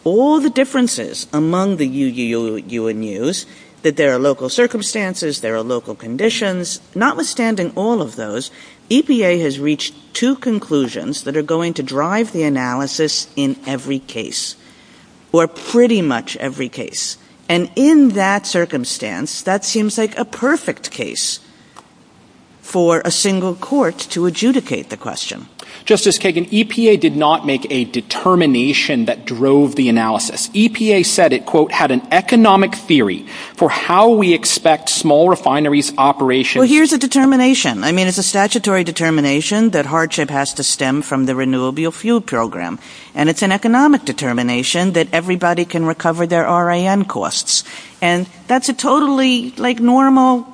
all the differences among the you, you, you and yous, that there are local circumstances, there are local conditions, notwithstanding all of those, EPA has reached two conclusions that are going to drive the analysis in every case, or pretty much every case. And in that circumstance, that seems like a perfect case for a single court to adjudicate the question. Justice Kagan, EPA did not make a determination that drove the analysis. EPA said it, quote, for how we expect small refineries operation. Well, here's a determination. I mean, it's a statutory determination that hardship has to stem from the renewable fuel program. And it's an economic determination that everybody can recover their RIN costs. And that's a totally, like, normal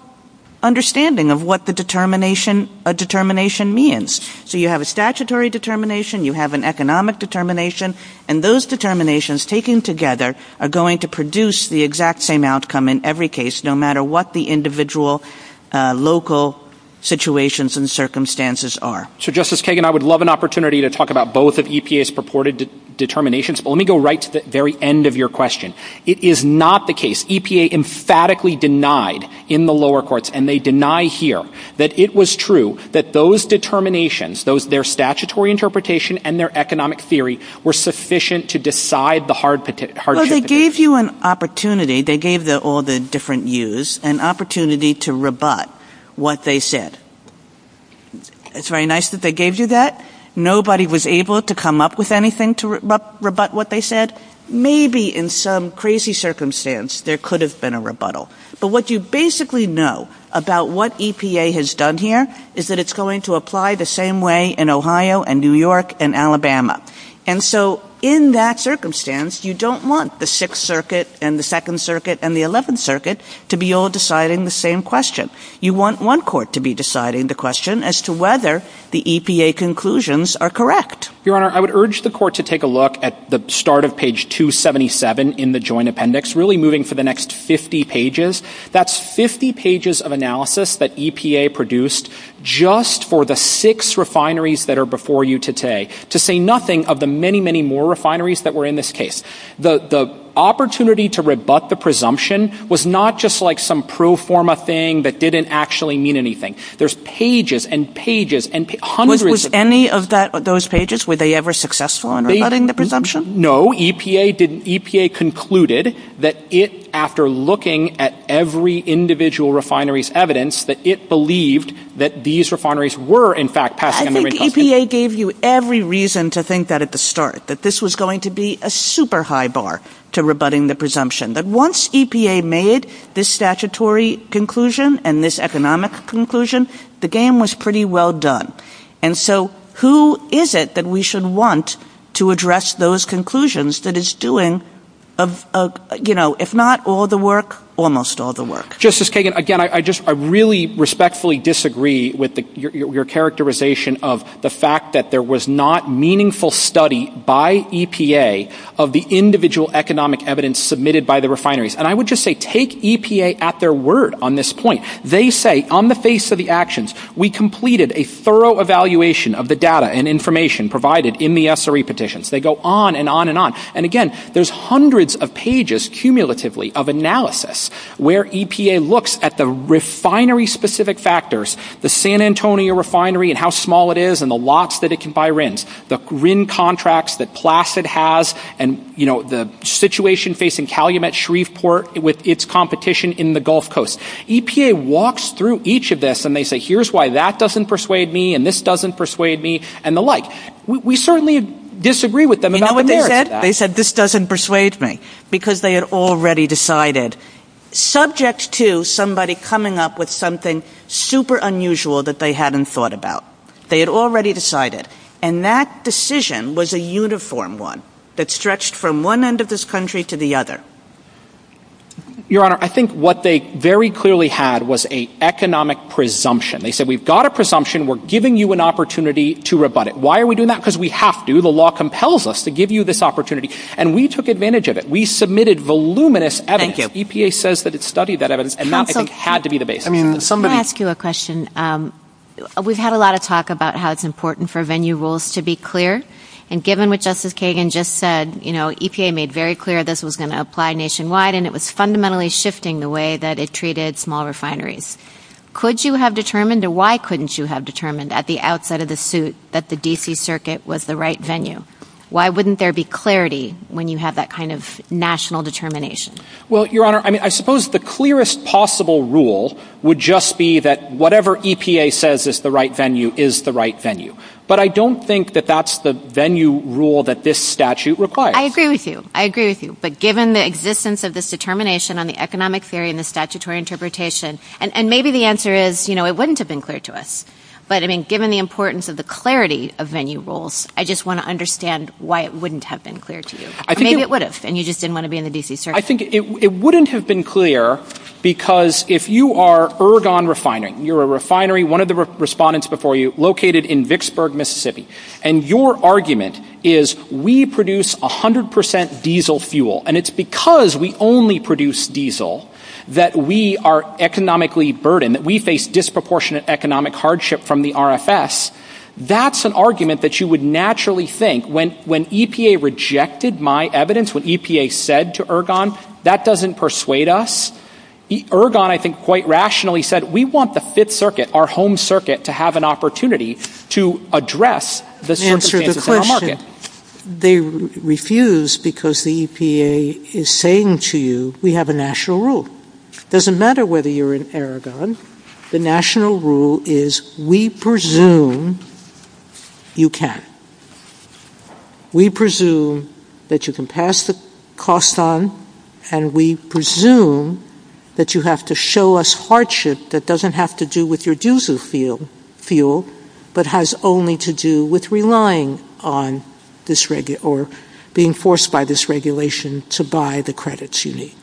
understanding of what the determination means. So you have a statutory determination, you have an economic determination, and those determinations taken together are going to produce the exact same outcome in every case, no matter what the individual local situations and circumstances are. So, Justice Kagan, I would love an opportunity to talk about both of EPA's purported determinations, but let me go right to the very end of your question. It is not the case. EPA emphatically denied in the lower courts, and they deny here, that it was true that those determinations, their statutory interpretation and their economic theory were sufficient to decide the hardship. Well, they gave you an opportunity. They gave all the different yous an opportunity to rebut what they said. It's very nice that they gave you that. Nobody was able to come up with anything to rebut what they said. Maybe in some crazy circumstance there could have been a rebuttal. But what you basically know about what EPA has done here is that it's going to apply the same way in Ohio and New York and Alabama. And so, in that circumstance, you don't want the 6th Circuit and the 2nd Circuit and the 11th Circuit to be all deciding the same question. You want one court to be deciding the question as to whether the EPA conclusions are correct. Your Honor, I would urge the court to take a look at the start of page 277 in the joint appendix, really moving to the next 50 pages. That's 50 pages of analysis that EPA produced just for the 6 refineries that are before you today to say nothing of the many, many more refineries that were in this case. The opportunity to rebut the presumption was not just like some pro forma thing that didn't actually mean anything. There's pages and pages and hundreds... Was any of those pages, were they ever successful in rebutting the presumption? No, EPA concluded that it, after looking at every individual refinery's evidence, that it believed that these refineries were, in fact... I think EPA gave you every reason to think that at the start, that this was going to be a super high bar to rebutting the presumption. But once EPA made this statutory conclusion and this economic conclusion, the game was pretty well done. And so, who is it that we should want to address those conclusions that it's doing, if not all the work, almost all the work? Justice Kagan, again, I really respectfully disagree with your characterization of the fact that there was not meaningful study by EPA of the individual economic evidence submitted by the refineries. And I would just say, take EPA at their word on this point. They say, on the face of the actions, we completed a thorough evaluation of the data and information provided in the SRE petitions. They go on and on and on. And again, there's hundreds of pages, cumulatively, of analysis where EPA looks at the refinery-specific factors, the San Antonio refinery and how small it is, and the lots that it can buy RINs, the RIN contracts that Placid has, and the situation facing Calumet Shreveport with its competition in the Gulf Coast. EPA walks through each of this, and they say, here's why that doesn't persuade me, and this doesn't persuade me, and the like. We certainly disagree with them about what they heard. You know what they said? They said, this doesn't persuade me. Because they had already decided, subject to somebody coming up with something super unusual that they hadn't thought about. They had already decided. And that decision was a uniform one that stretched from one end of this country to the other. Your Honor, I think what they very clearly had was an economic presumption. They said, we've got a presumption. We're giving you an opportunity to rebut it. Why are we doing that? Because we have to. The law compels us to give you this opportunity. And we took advantage of it. We submitted voluminous evidence. EPA says that it studied that evidence, and that, I think, had to be the basis. I'm going to ask you a question. We've had a lot of talk about how it's important for venue rules to be clear. And given what Justice Kagan just said, EPA made very clear this was going to apply nationwide. And it was fundamentally shifting the way that it treated small refineries. Could you have determined, or why couldn't you have determined, at the outset of the suit, that the D.C. Circuit was the right venue? Why wouldn't there be clarity when you have that kind of national determination? Well, Your Honor, I suppose the clearest possible rule would just be that whatever EPA says is the right venue is the right venue. But I don't think that that's the venue rule that this statute requires. I agree with you. I agree with you. But given the existence of this determination on the economic theory and the statutory interpretation, and maybe the answer is, you know, it wouldn't have been clear to us. But, I mean, given the importance of the clarity of venue rules, I just want to understand why it wouldn't have been clear to you. Maybe it would have, and you just didn't want to be in the D.C. Circuit. I think it wouldn't have been clear because if you are Ergon Refinery, you're a refinery, one of the respondents before you, located in Vicksburg, Mississippi, and your argument is, we produce 100% diesel fuel, and it's because we only produce diesel that we are economically burdened, that we face disproportionate economic hardship from the RFS, that's an argument that you would naturally think, when EPA rejected my evidence, when EPA said to Ergon, that doesn't persuade us. Ergon, I think, quite rationally said, we want the Fifth Circuit, our home circuit, to have an opportunity to address the circumstances of our market. They refused because the EPA is saying to you, we have a national rule. It doesn't matter whether you're in Ergon, the national rule is, we presume you can. We presume that you can pass the cost on, and we presume that you have to show us hardship that doesn't have to do with your diesel fuel, but has only to do with relying on this, or being forced by this regulation to buy the credits you need.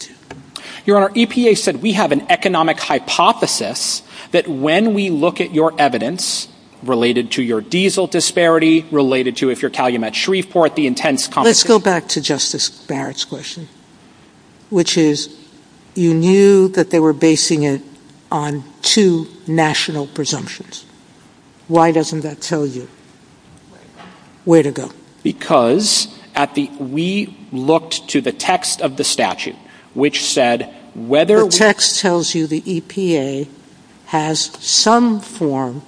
Your Honor, EPA said we have an economic hypothesis that when we look at your evidence, related to your diesel disparity, related to, if you're Calumet Shreveport, the intense competition. Let's go back to Justice Barrett's question, which is, you knew that they were basing it on two national presumptions. Why doesn't that tell you? Way to go. Because we looked to the text of the statute, which said whether... The text tells you the EPA has some form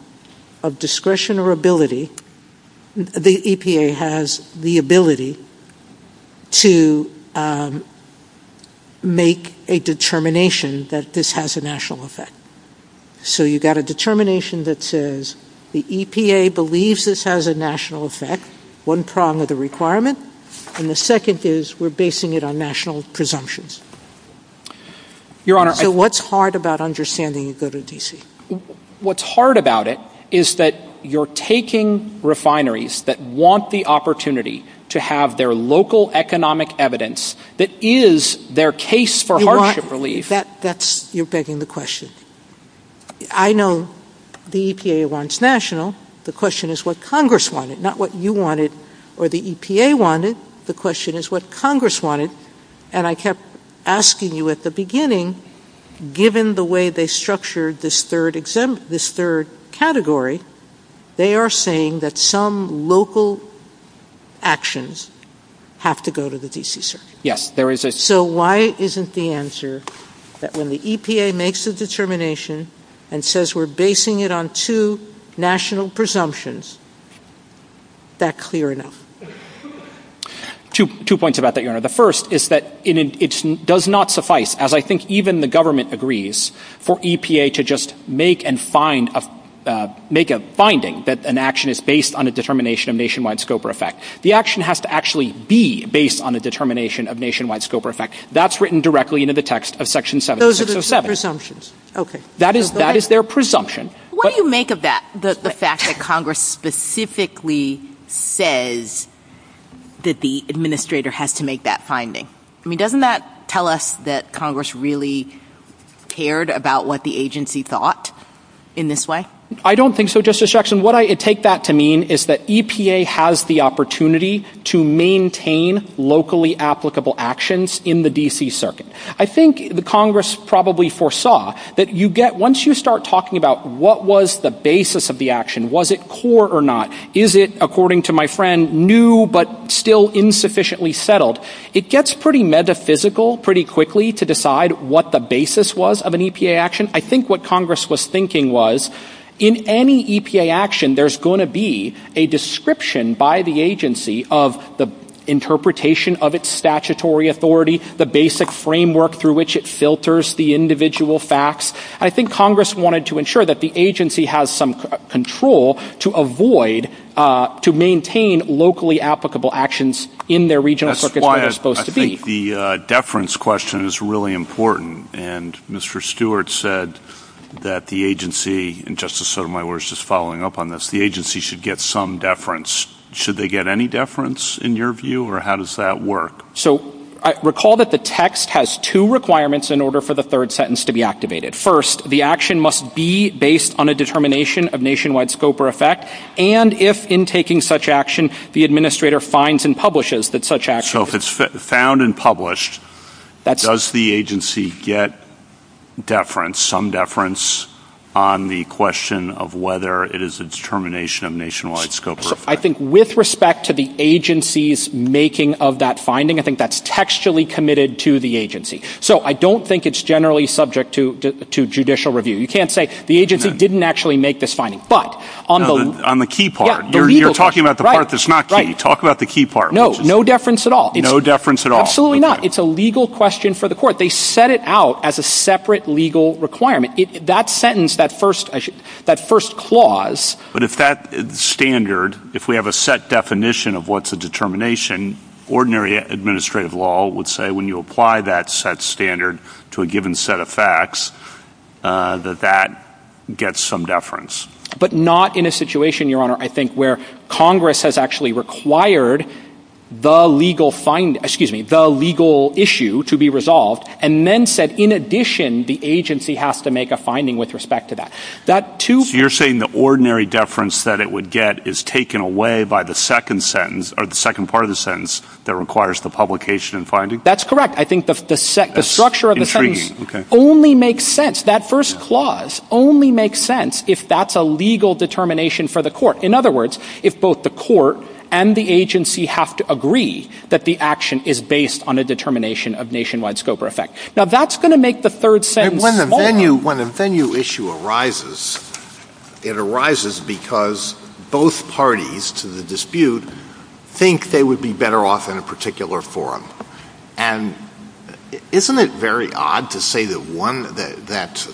of discretion or ability, the EPA has the ability to make a determination that this has a national effect. So you've got a determination that says, the EPA believes this has a national effect, one prong of the requirement, and the second is we're basing it on national presumptions. Your Honor... So what's hard about understanding you go to D.C.? What's hard about it is that you're taking refineries that want the opportunity to have their local economic evidence that is their case for hardship relief. You're begging the question. I know the EPA wants national. The question is what Congress wanted, not what you wanted or the EPA wanted. The question is what Congress wanted. And I kept asking you at the beginning, given the way they structured this third category, they are saying that some local actions have to go to the D.C. Circuit. Yes, there is a... So why isn't the answer that when the EPA makes a determination and says we're basing it on two national presumptions, that clear enough? Two points about that, Your Honor. The first is that it does not suffice, as I think even the government agrees, for EPA to just make a finding that an action is based on a determination of nationwide scope or effect. The action has to actually be based on a determination of nationwide scope or effect. That's written directly into the text of Section 707. Those are the presumptions. That is their presumption. What do you make of that, the fact that Congress specifically says that the administrator has to make that finding? I mean, doesn't that tell us that Congress really cared about what the agency thought in this way? I don't think so, Justice Jackson. What I take that to mean is that EPA has the opportunity to maintain locally applicable actions in the D.C. Circuit. I think the Congress probably foresaw that you get, once you start talking about what was the basis of the action, was it core or not, is it, according to my friend, new but still insufficiently settled, it gets pretty metaphysical pretty quickly to decide what the basis was of an EPA action. I think what Congress was thinking was, in any EPA action, there's going to be a description by the agency of the interpretation of its statutory authority, the basic framework through which it filters the individual facts. I think Congress wanted to ensure that the agency has some control to avoid, to maintain locally applicable actions in their regional circuit where they're supposed to be. That's why I think the deference question is really important, and Mr. Stewart said that the agency, and Justice Sotomayor was just following up on this, the agency should get some deference. Should they get any deference, in your view, or how does that work? So, recall that the text has two requirements in order for the third sentence to be activated. First, the action must be based on a determination of nationwide scope or effect, and if, in taking such action, the administrator finds and publishes that such action... So, if it's found and published, does the agency get deference, some deference, on the question of whether it is a determination of nationwide scope or effect? I think with respect to the agency's making of that finding, I think that's textually committed to the agency. So, I don't think it's generally subject to judicial review. You can't say, the agency didn't actually make this finding, but on the... On the key part. You're talking about the part that's not key. Talk about the key part. No, no deference at all. No deference at all. Absolutely not. It's a legal question for the court. They set it out as a separate legal requirement. That sentence, that first clause... But if that standard, if we have a set definition of what's a determination, ordinary administrative law would say, when you apply that set standard to a given set of facts, that that gets some deference. But not in a situation, Your Honor, I think where Congress has actually required the legal issue to be resolved, and then said, in addition, the agency has to make a finding with respect to that. You're saying the ordinary deference that it would get is taken away by the second sentence, or the second part of the sentence, that requires the publication and finding? That's correct. I think the structure of the sentence only makes sense. That first clause only makes sense if that's a legal determination for the court. In other words, if both the court and the agency have to agree that the action is based on a determination of nationwide scope or effect. Now, that's going to make the third sentence... When a venue issue arises, it arises because both parties to the dispute think they would be better off in a particular forum. And isn't it very odd to say that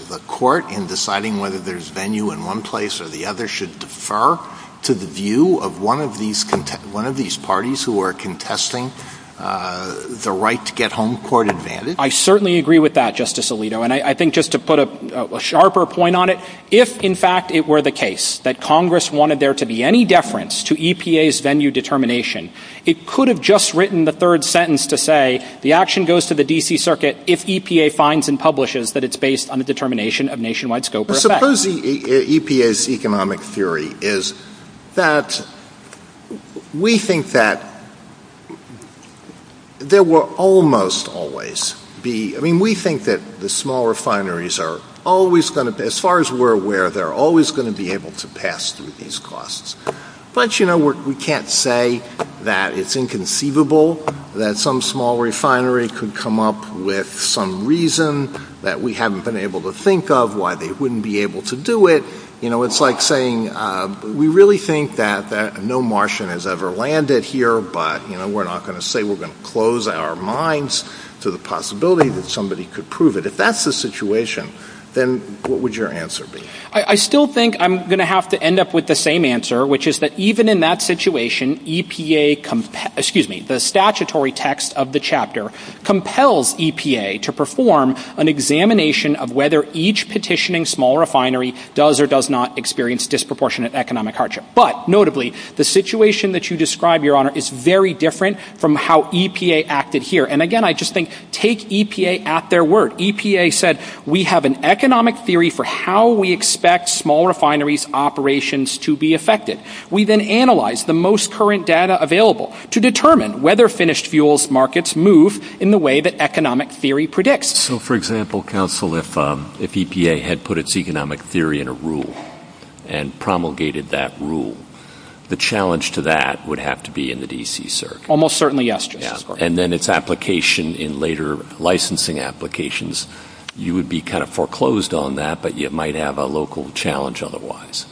the court, in deciding whether there's venue in one place or the other, should defer to the view of one of these parties who are contesting the right to get home court advantage? I certainly agree with that, Justice Alito. And I think, just to put a sharper point on it, if, in fact, it were the case that Congress wanted there to be any deference to EPA's venue determination, it could have just written the third sentence to say, the action goes to the D.C. Circuit if EPA finds and publishes that it's based on a determination of nationwide scope or effect. Suppose EPA's economic theory is that... We think that there will almost always be... I mean, we think that the small refineries are always going to... As far as we're aware, they're always going to be able to pass through these costs. But, you know, we can't say that it's inconceivable that some small refinery could come up with some reason that we haven't been able to think of why they wouldn't be able to do it. You know, it's like saying, we really think that no Martian has ever landed here, but, you know, we're not going to say we're going to close our minds to the possibility that somebody could prove it. If that's the situation, then what would your answer be? I still think I'm going to have to end up with the same answer, which is that even in that situation, the statutory text of the chapter compels EPA to perform an examination of whether each petitioning small refinery does or does not experience disproportionate economic hardship. But, notably, the situation that you describe, Your Honour, is very different from how EPA acted here. And again, I just think, take EPA at their word. EPA said, we have an economic theory for how we expect small refineries' operations to be affected. We then analyze the most current data available to determine whether finished fuels markets move in the way that economic theory predicts. So, for example, counsel, if EPA had put its economic theory in a rule and promulgated that rule, the challenge to that would have to be in the D.C. Circuit. Almost certainly, yes, Your Honour. And then its application in later licensing applications, you would be kind of foreclosed on that, but you might have a local challenge otherwise.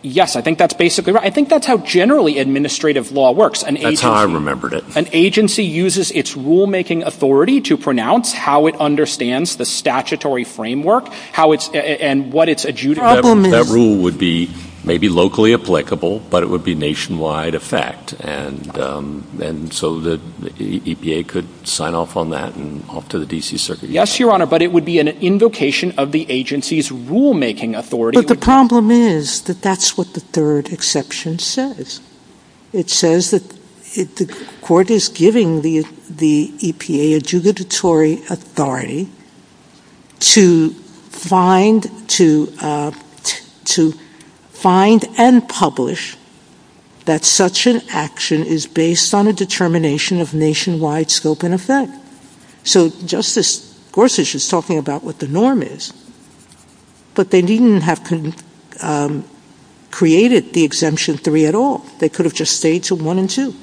Yes, I think that's basically right. I think that's how generally administrative law works. That's how I remembered it. An agency uses its rulemaking authority to pronounce how it understands the statutory framework and what its adjudication... That rule would be maybe locally applicable, but it would be nationwide effect. And so the EPA could sign off on that and off to the D.C. Circuit. Yes, Your Honour, but it would be an invocation of the agency's rulemaking authority. But the problem is that that's what the third exception says. It says that the court is giving the EPA adjudicatory authority to find and publish that such an action is based on a determination of nationwide scope and effect. So Justice Gorsuch is talking about what the norm is, but they didn't have to create the exemption 3 at all. They could have just stayed to 1 and 2.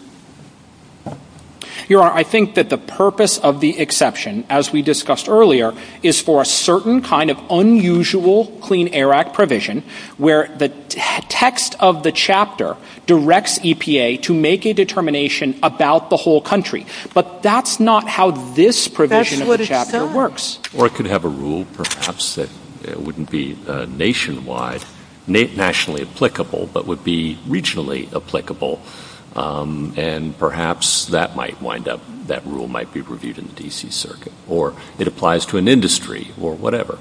Your Honour, I think that the purpose of the exception, as we discussed earlier, is for a certain kind of unusual Clean Air Act provision where the text of the chapter directs EPA to make a determination about the whole country. But that's not how this provision of the chapter works. Or it could have a rule, perhaps, that wouldn't be nationwide, nationally applicable, but would be regionally applicable. And perhaps that might wind up, that rule might be reviewed in the D.C. Circuit. Or it applies to an industry or whatever.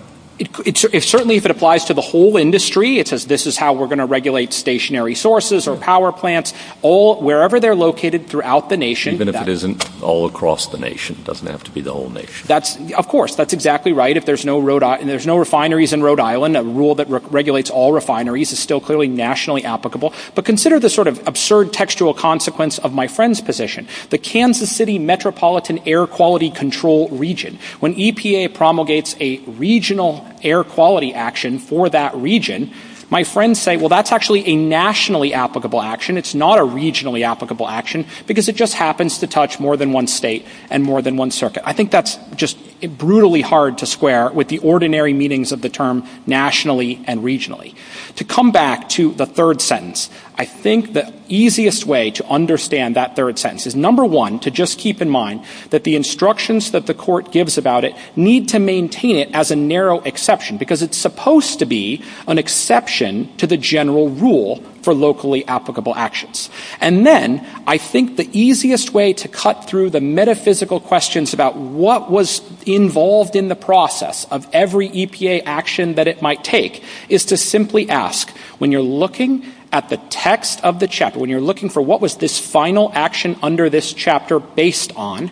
Certainly if it applies to the whole industry, it says this is how we're going to regulate stationary sources or power plants, wherever they're located throughout the nation. Even if it isn't all across the nation. It doesn't have to be the whole nation. Of course, that's exactly right. If there's no refineries in Rhode Island, a rule that regulates all refineries is still clearly nationally applicable. But consider the sort of absurd textual consequence of my friend's position. The Kansas City Metropolitan Air Quality Control Region. When EPA promulgates a regional air quality action for that region, my friends say, well, that's actually a nationally applicable action. It's not a regionally applicable action because it just happens to touch more than one state and more than one circuit. I think that's just brutally hard to square with the ordinary meanings of the term nationally and regionally. To come back to the third sentence, I think the easiest way to understand that third sentence is number one, to just keep in mind that the instructions that the court gives about it need to maintain it as a narrow exception because it's supposed to be an exception to the general rule for locally applicable actions. And then I think the easiest way to cut through the metaphysical questions about what was involved in the process of every EPA action that it might take is to simply ask, when you're looking at the text of the chapter, when you're looking for what was this final action under this chapter based on,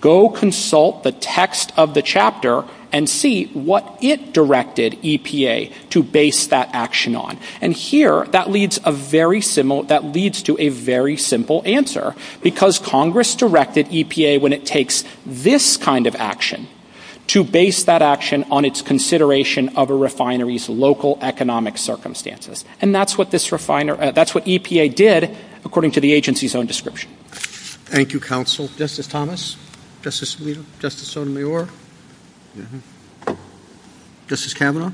go consult the text of the chapter and see what it directed EPA to base that action on. And here, that leads to a very simple answer because Congress directed EPA, when it takes this kind of action, to base that action on its consideration of a refinery's local economic circumstances. And that's what this refinery, that's what EPA did according to the agency's own description. Thank you, counsel. Justice Thomas? Justice Weaver? Justice Sotomayor? Mm-hmm. Justice Kavanaugh?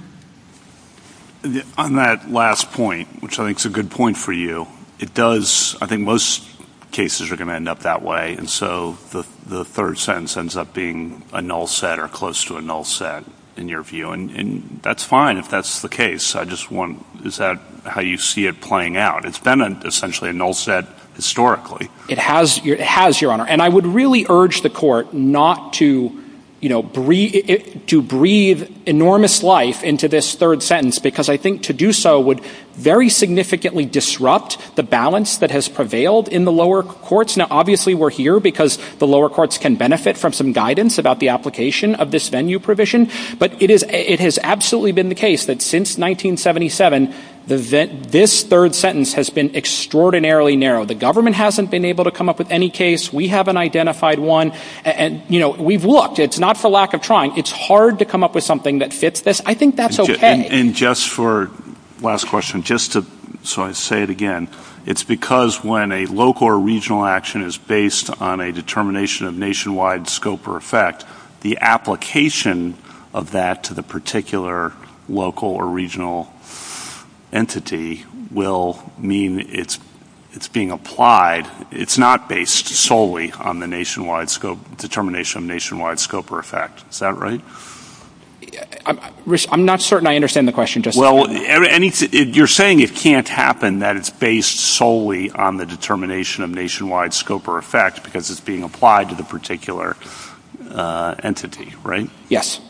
On that last point, which I think is a good point for you, it does, I think most cases are going to end up that way. And so the third sentence ends up being a null set or close to a null set in your view. And that's fine if that's the case. I just want, is that how you see it playing out? It's been essentially a null set historically. It has, Your Honor. And I would really urge the court not to breathe enormous life into this third sentence because I think to do so would very significantly disrupt the balance that has prevailed in the lower courts. Now, obviously we're here because the lower courts can benefit from some guidance about the application of this venue provision. But it has absolutely been the case that since 1977 this third sentence has been extraordinarily narrow. The government hasn't been able to come up with any case. We haven't identified one. And, you know, we've looked. It's not for lack of trying. It's hard to come up with something that fits this. I think that's okay. And just for last question, just so I say it again, it's because when a local or regional action is based on a determination of nationwide scope or effect, the application of that to the particular local or regional entity will mean it's being applied. It's not based solely on the nationwide scope, determination of nationwide scope or effect. Is that right? I'm not certain I understand the question. Well, you're saying it can't happen, that it's based solely on the determination of nationwide scope or effect because it's being applied to the particular entity, right? Yes.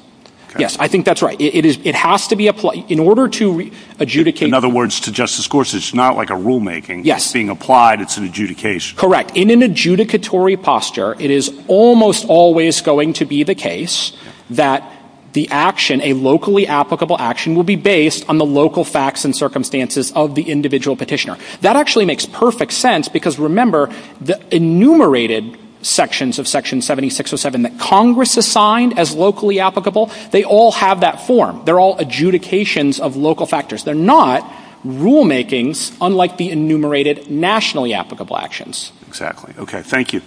Yes, I think that's right. It has to be applied. In order to adjudicate. In other words, to justice courts, it's not like a rulemaking. It's being applied. It's an adjudication. Correct. In an adjudicatory posture, it is almost always going to be the case that the action, a locally applicable action, will be based on the local facts and circumstances of the individual petitioner. That actually makes perfect sense because remember the enumerated sections of Section 7607 that Congress assigned as locally applicable, they all have that form. They're all adjudications of local factors. They're not rulemakings, unlike the enumerated nationally applicable actions. Exactly. Okay, thank you.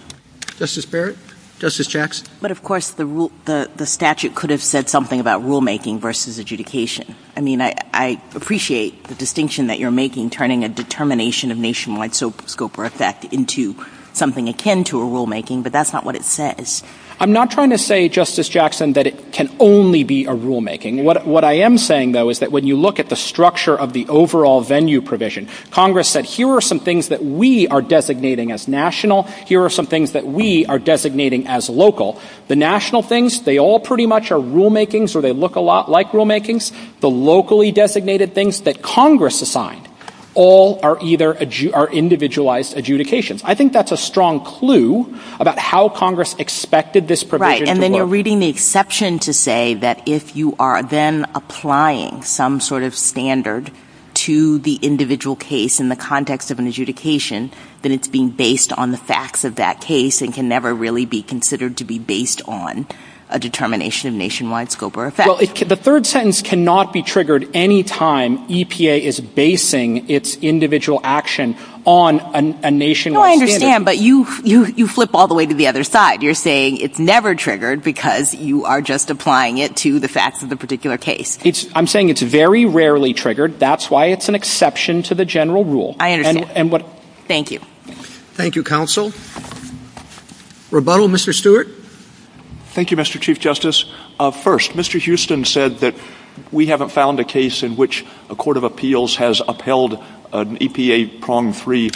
Justice Barrett? Justice Jackson? But, of course, the statute could have said something about rulemaking versus adjudication. I mean, I appreciate the distinction that you're making, turning a determination of nationwide scope or effect into something akin to a rulemaking, but that's not what it says. I'm not trying to say, Justice Jackson, that it can only be a rulemaking. What I am saying, though, is that when you look at the structure of the overall venue provision, Congress said here are some things that we are designating as national. Here are some things that we are designating as local. The national things, they all pretty much are rulemakings or they look a lot like rulemakings. The locally designated things that Congress assigned all are either individualized adjudications. I think that's a strong clue about how Congress expected this provision to work. Right, and then you're reading the exception to say that if you are then applying some sort of standard to the individual case in the context of an adjudication, then it's being based on the facts of that case and can never really be considered to be based on a determination of nationwide scope or effect. Well, the third sentence cannot be triggered any time EPA is basing its individual action on a nationwide standard. I understand, but you flip all the way to the other side. You're saying it's never triggered because you are just applying it to the facts of the particular case. I'm saying it's very rarely triggered. That's why it's an exception to the general rule. Thank you. Thank you, counsel. Rebuttal, Mr. Stewart. Thank you, Mr. Chief Justice. First, Mr. Houston said that we haven't found a case in which a court of appeals has upheld an EPA-prong-free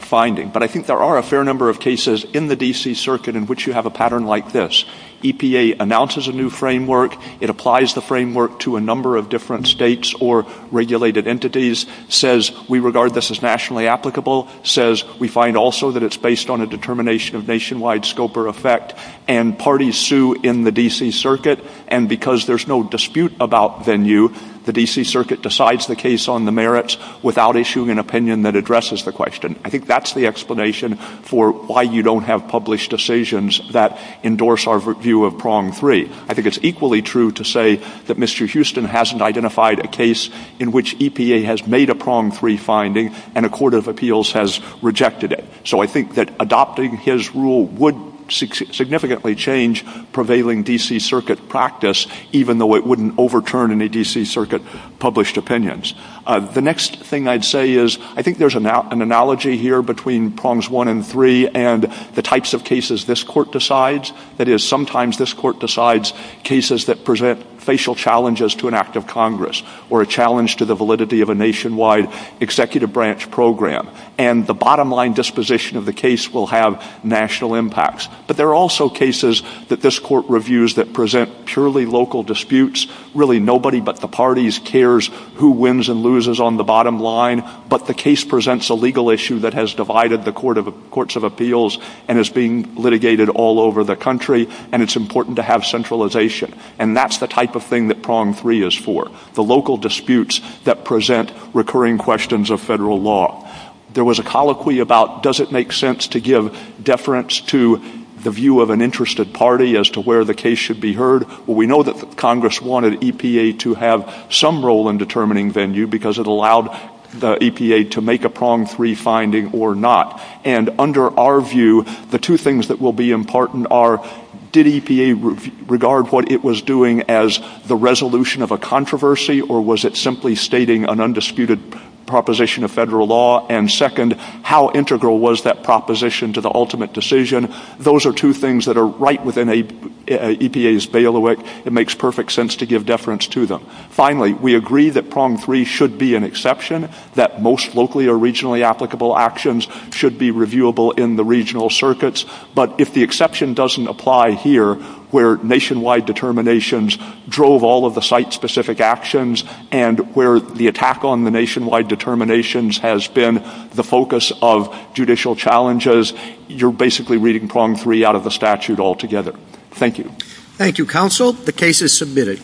finding, but I think there are a fair number of cases in the D.C. Circuit in which you have a pattern like this. EPA announces a new framework, it applies the framework to a number of different states or regulated entities, says we regard this as nationally applicable, says we find also that it's based on a determination of nationwide scope or effect, and parties sue in the D.C. Circuit, and because there's no dispute about venue, the D.C. Circuit decides the case on the merits without issuing an opinion that addresses the question. I think that's the explanation for why you don't have published decisions that endorse our view of prong-free. I think it's equally true to say that Mr. Houston hasn't identified a case in which EPA has made a prong-free finding and a court of appeals has rejected it. So I think that adopting his rule would significantly change prevailing D.C. Circuit practice, even though it wouldn't overturn any D.C. Circuit-published opinions. The next thing I'd say is, I think there's an analogy here between prongs one and three and the types of cases this court decides. That is, sometimes this court decides cases that present facial challenges to an act of Congress or a challenge to the validity of a nationwide executive branch program, and the bottom-line disposition of the case will have national impacts. But there are also cases that this court reviews that present purely local disputes. Really, nobody but the parties cares who wins and loses on the bottom line, but the case presents a legal issue that has divided the courts of appeals and is being litigated all over the country, and it's important to have centralization. And that's the type of thing that prong-free is for. The local disputes that present recurring questions of federal law. There was a colloquy about, does it make sense to give deference to the view of an interested party as to where the case should be heard? Well, we know that Congress wanted EPA to have some role in determining venue because it allowed the EPA to make a prong-free finding or not. And under our view, the two things that will be important are, did EPA regard what it was doing as the resolution of a controversy, or was it simply stating an undisputed proposition of federal law? And second, how integral was that proposition to the ultimate decision? Those are two things that are right within EPA's bailiwick. It makes perfect sense to give deference to them. Finally, we agree that prong-free should be an exception, that most locally or regionally applicable actions should be reviewable in the regional circuits. But if the exception doesn't apply here, where nationwide determinations drove all of the site-specific actions and where the attack on the nationwide determinations has been the focus of judicial challenges, you're basically reading prong-free out of the statute altogether. Thank you. Thank you, counsel. The case is submitted.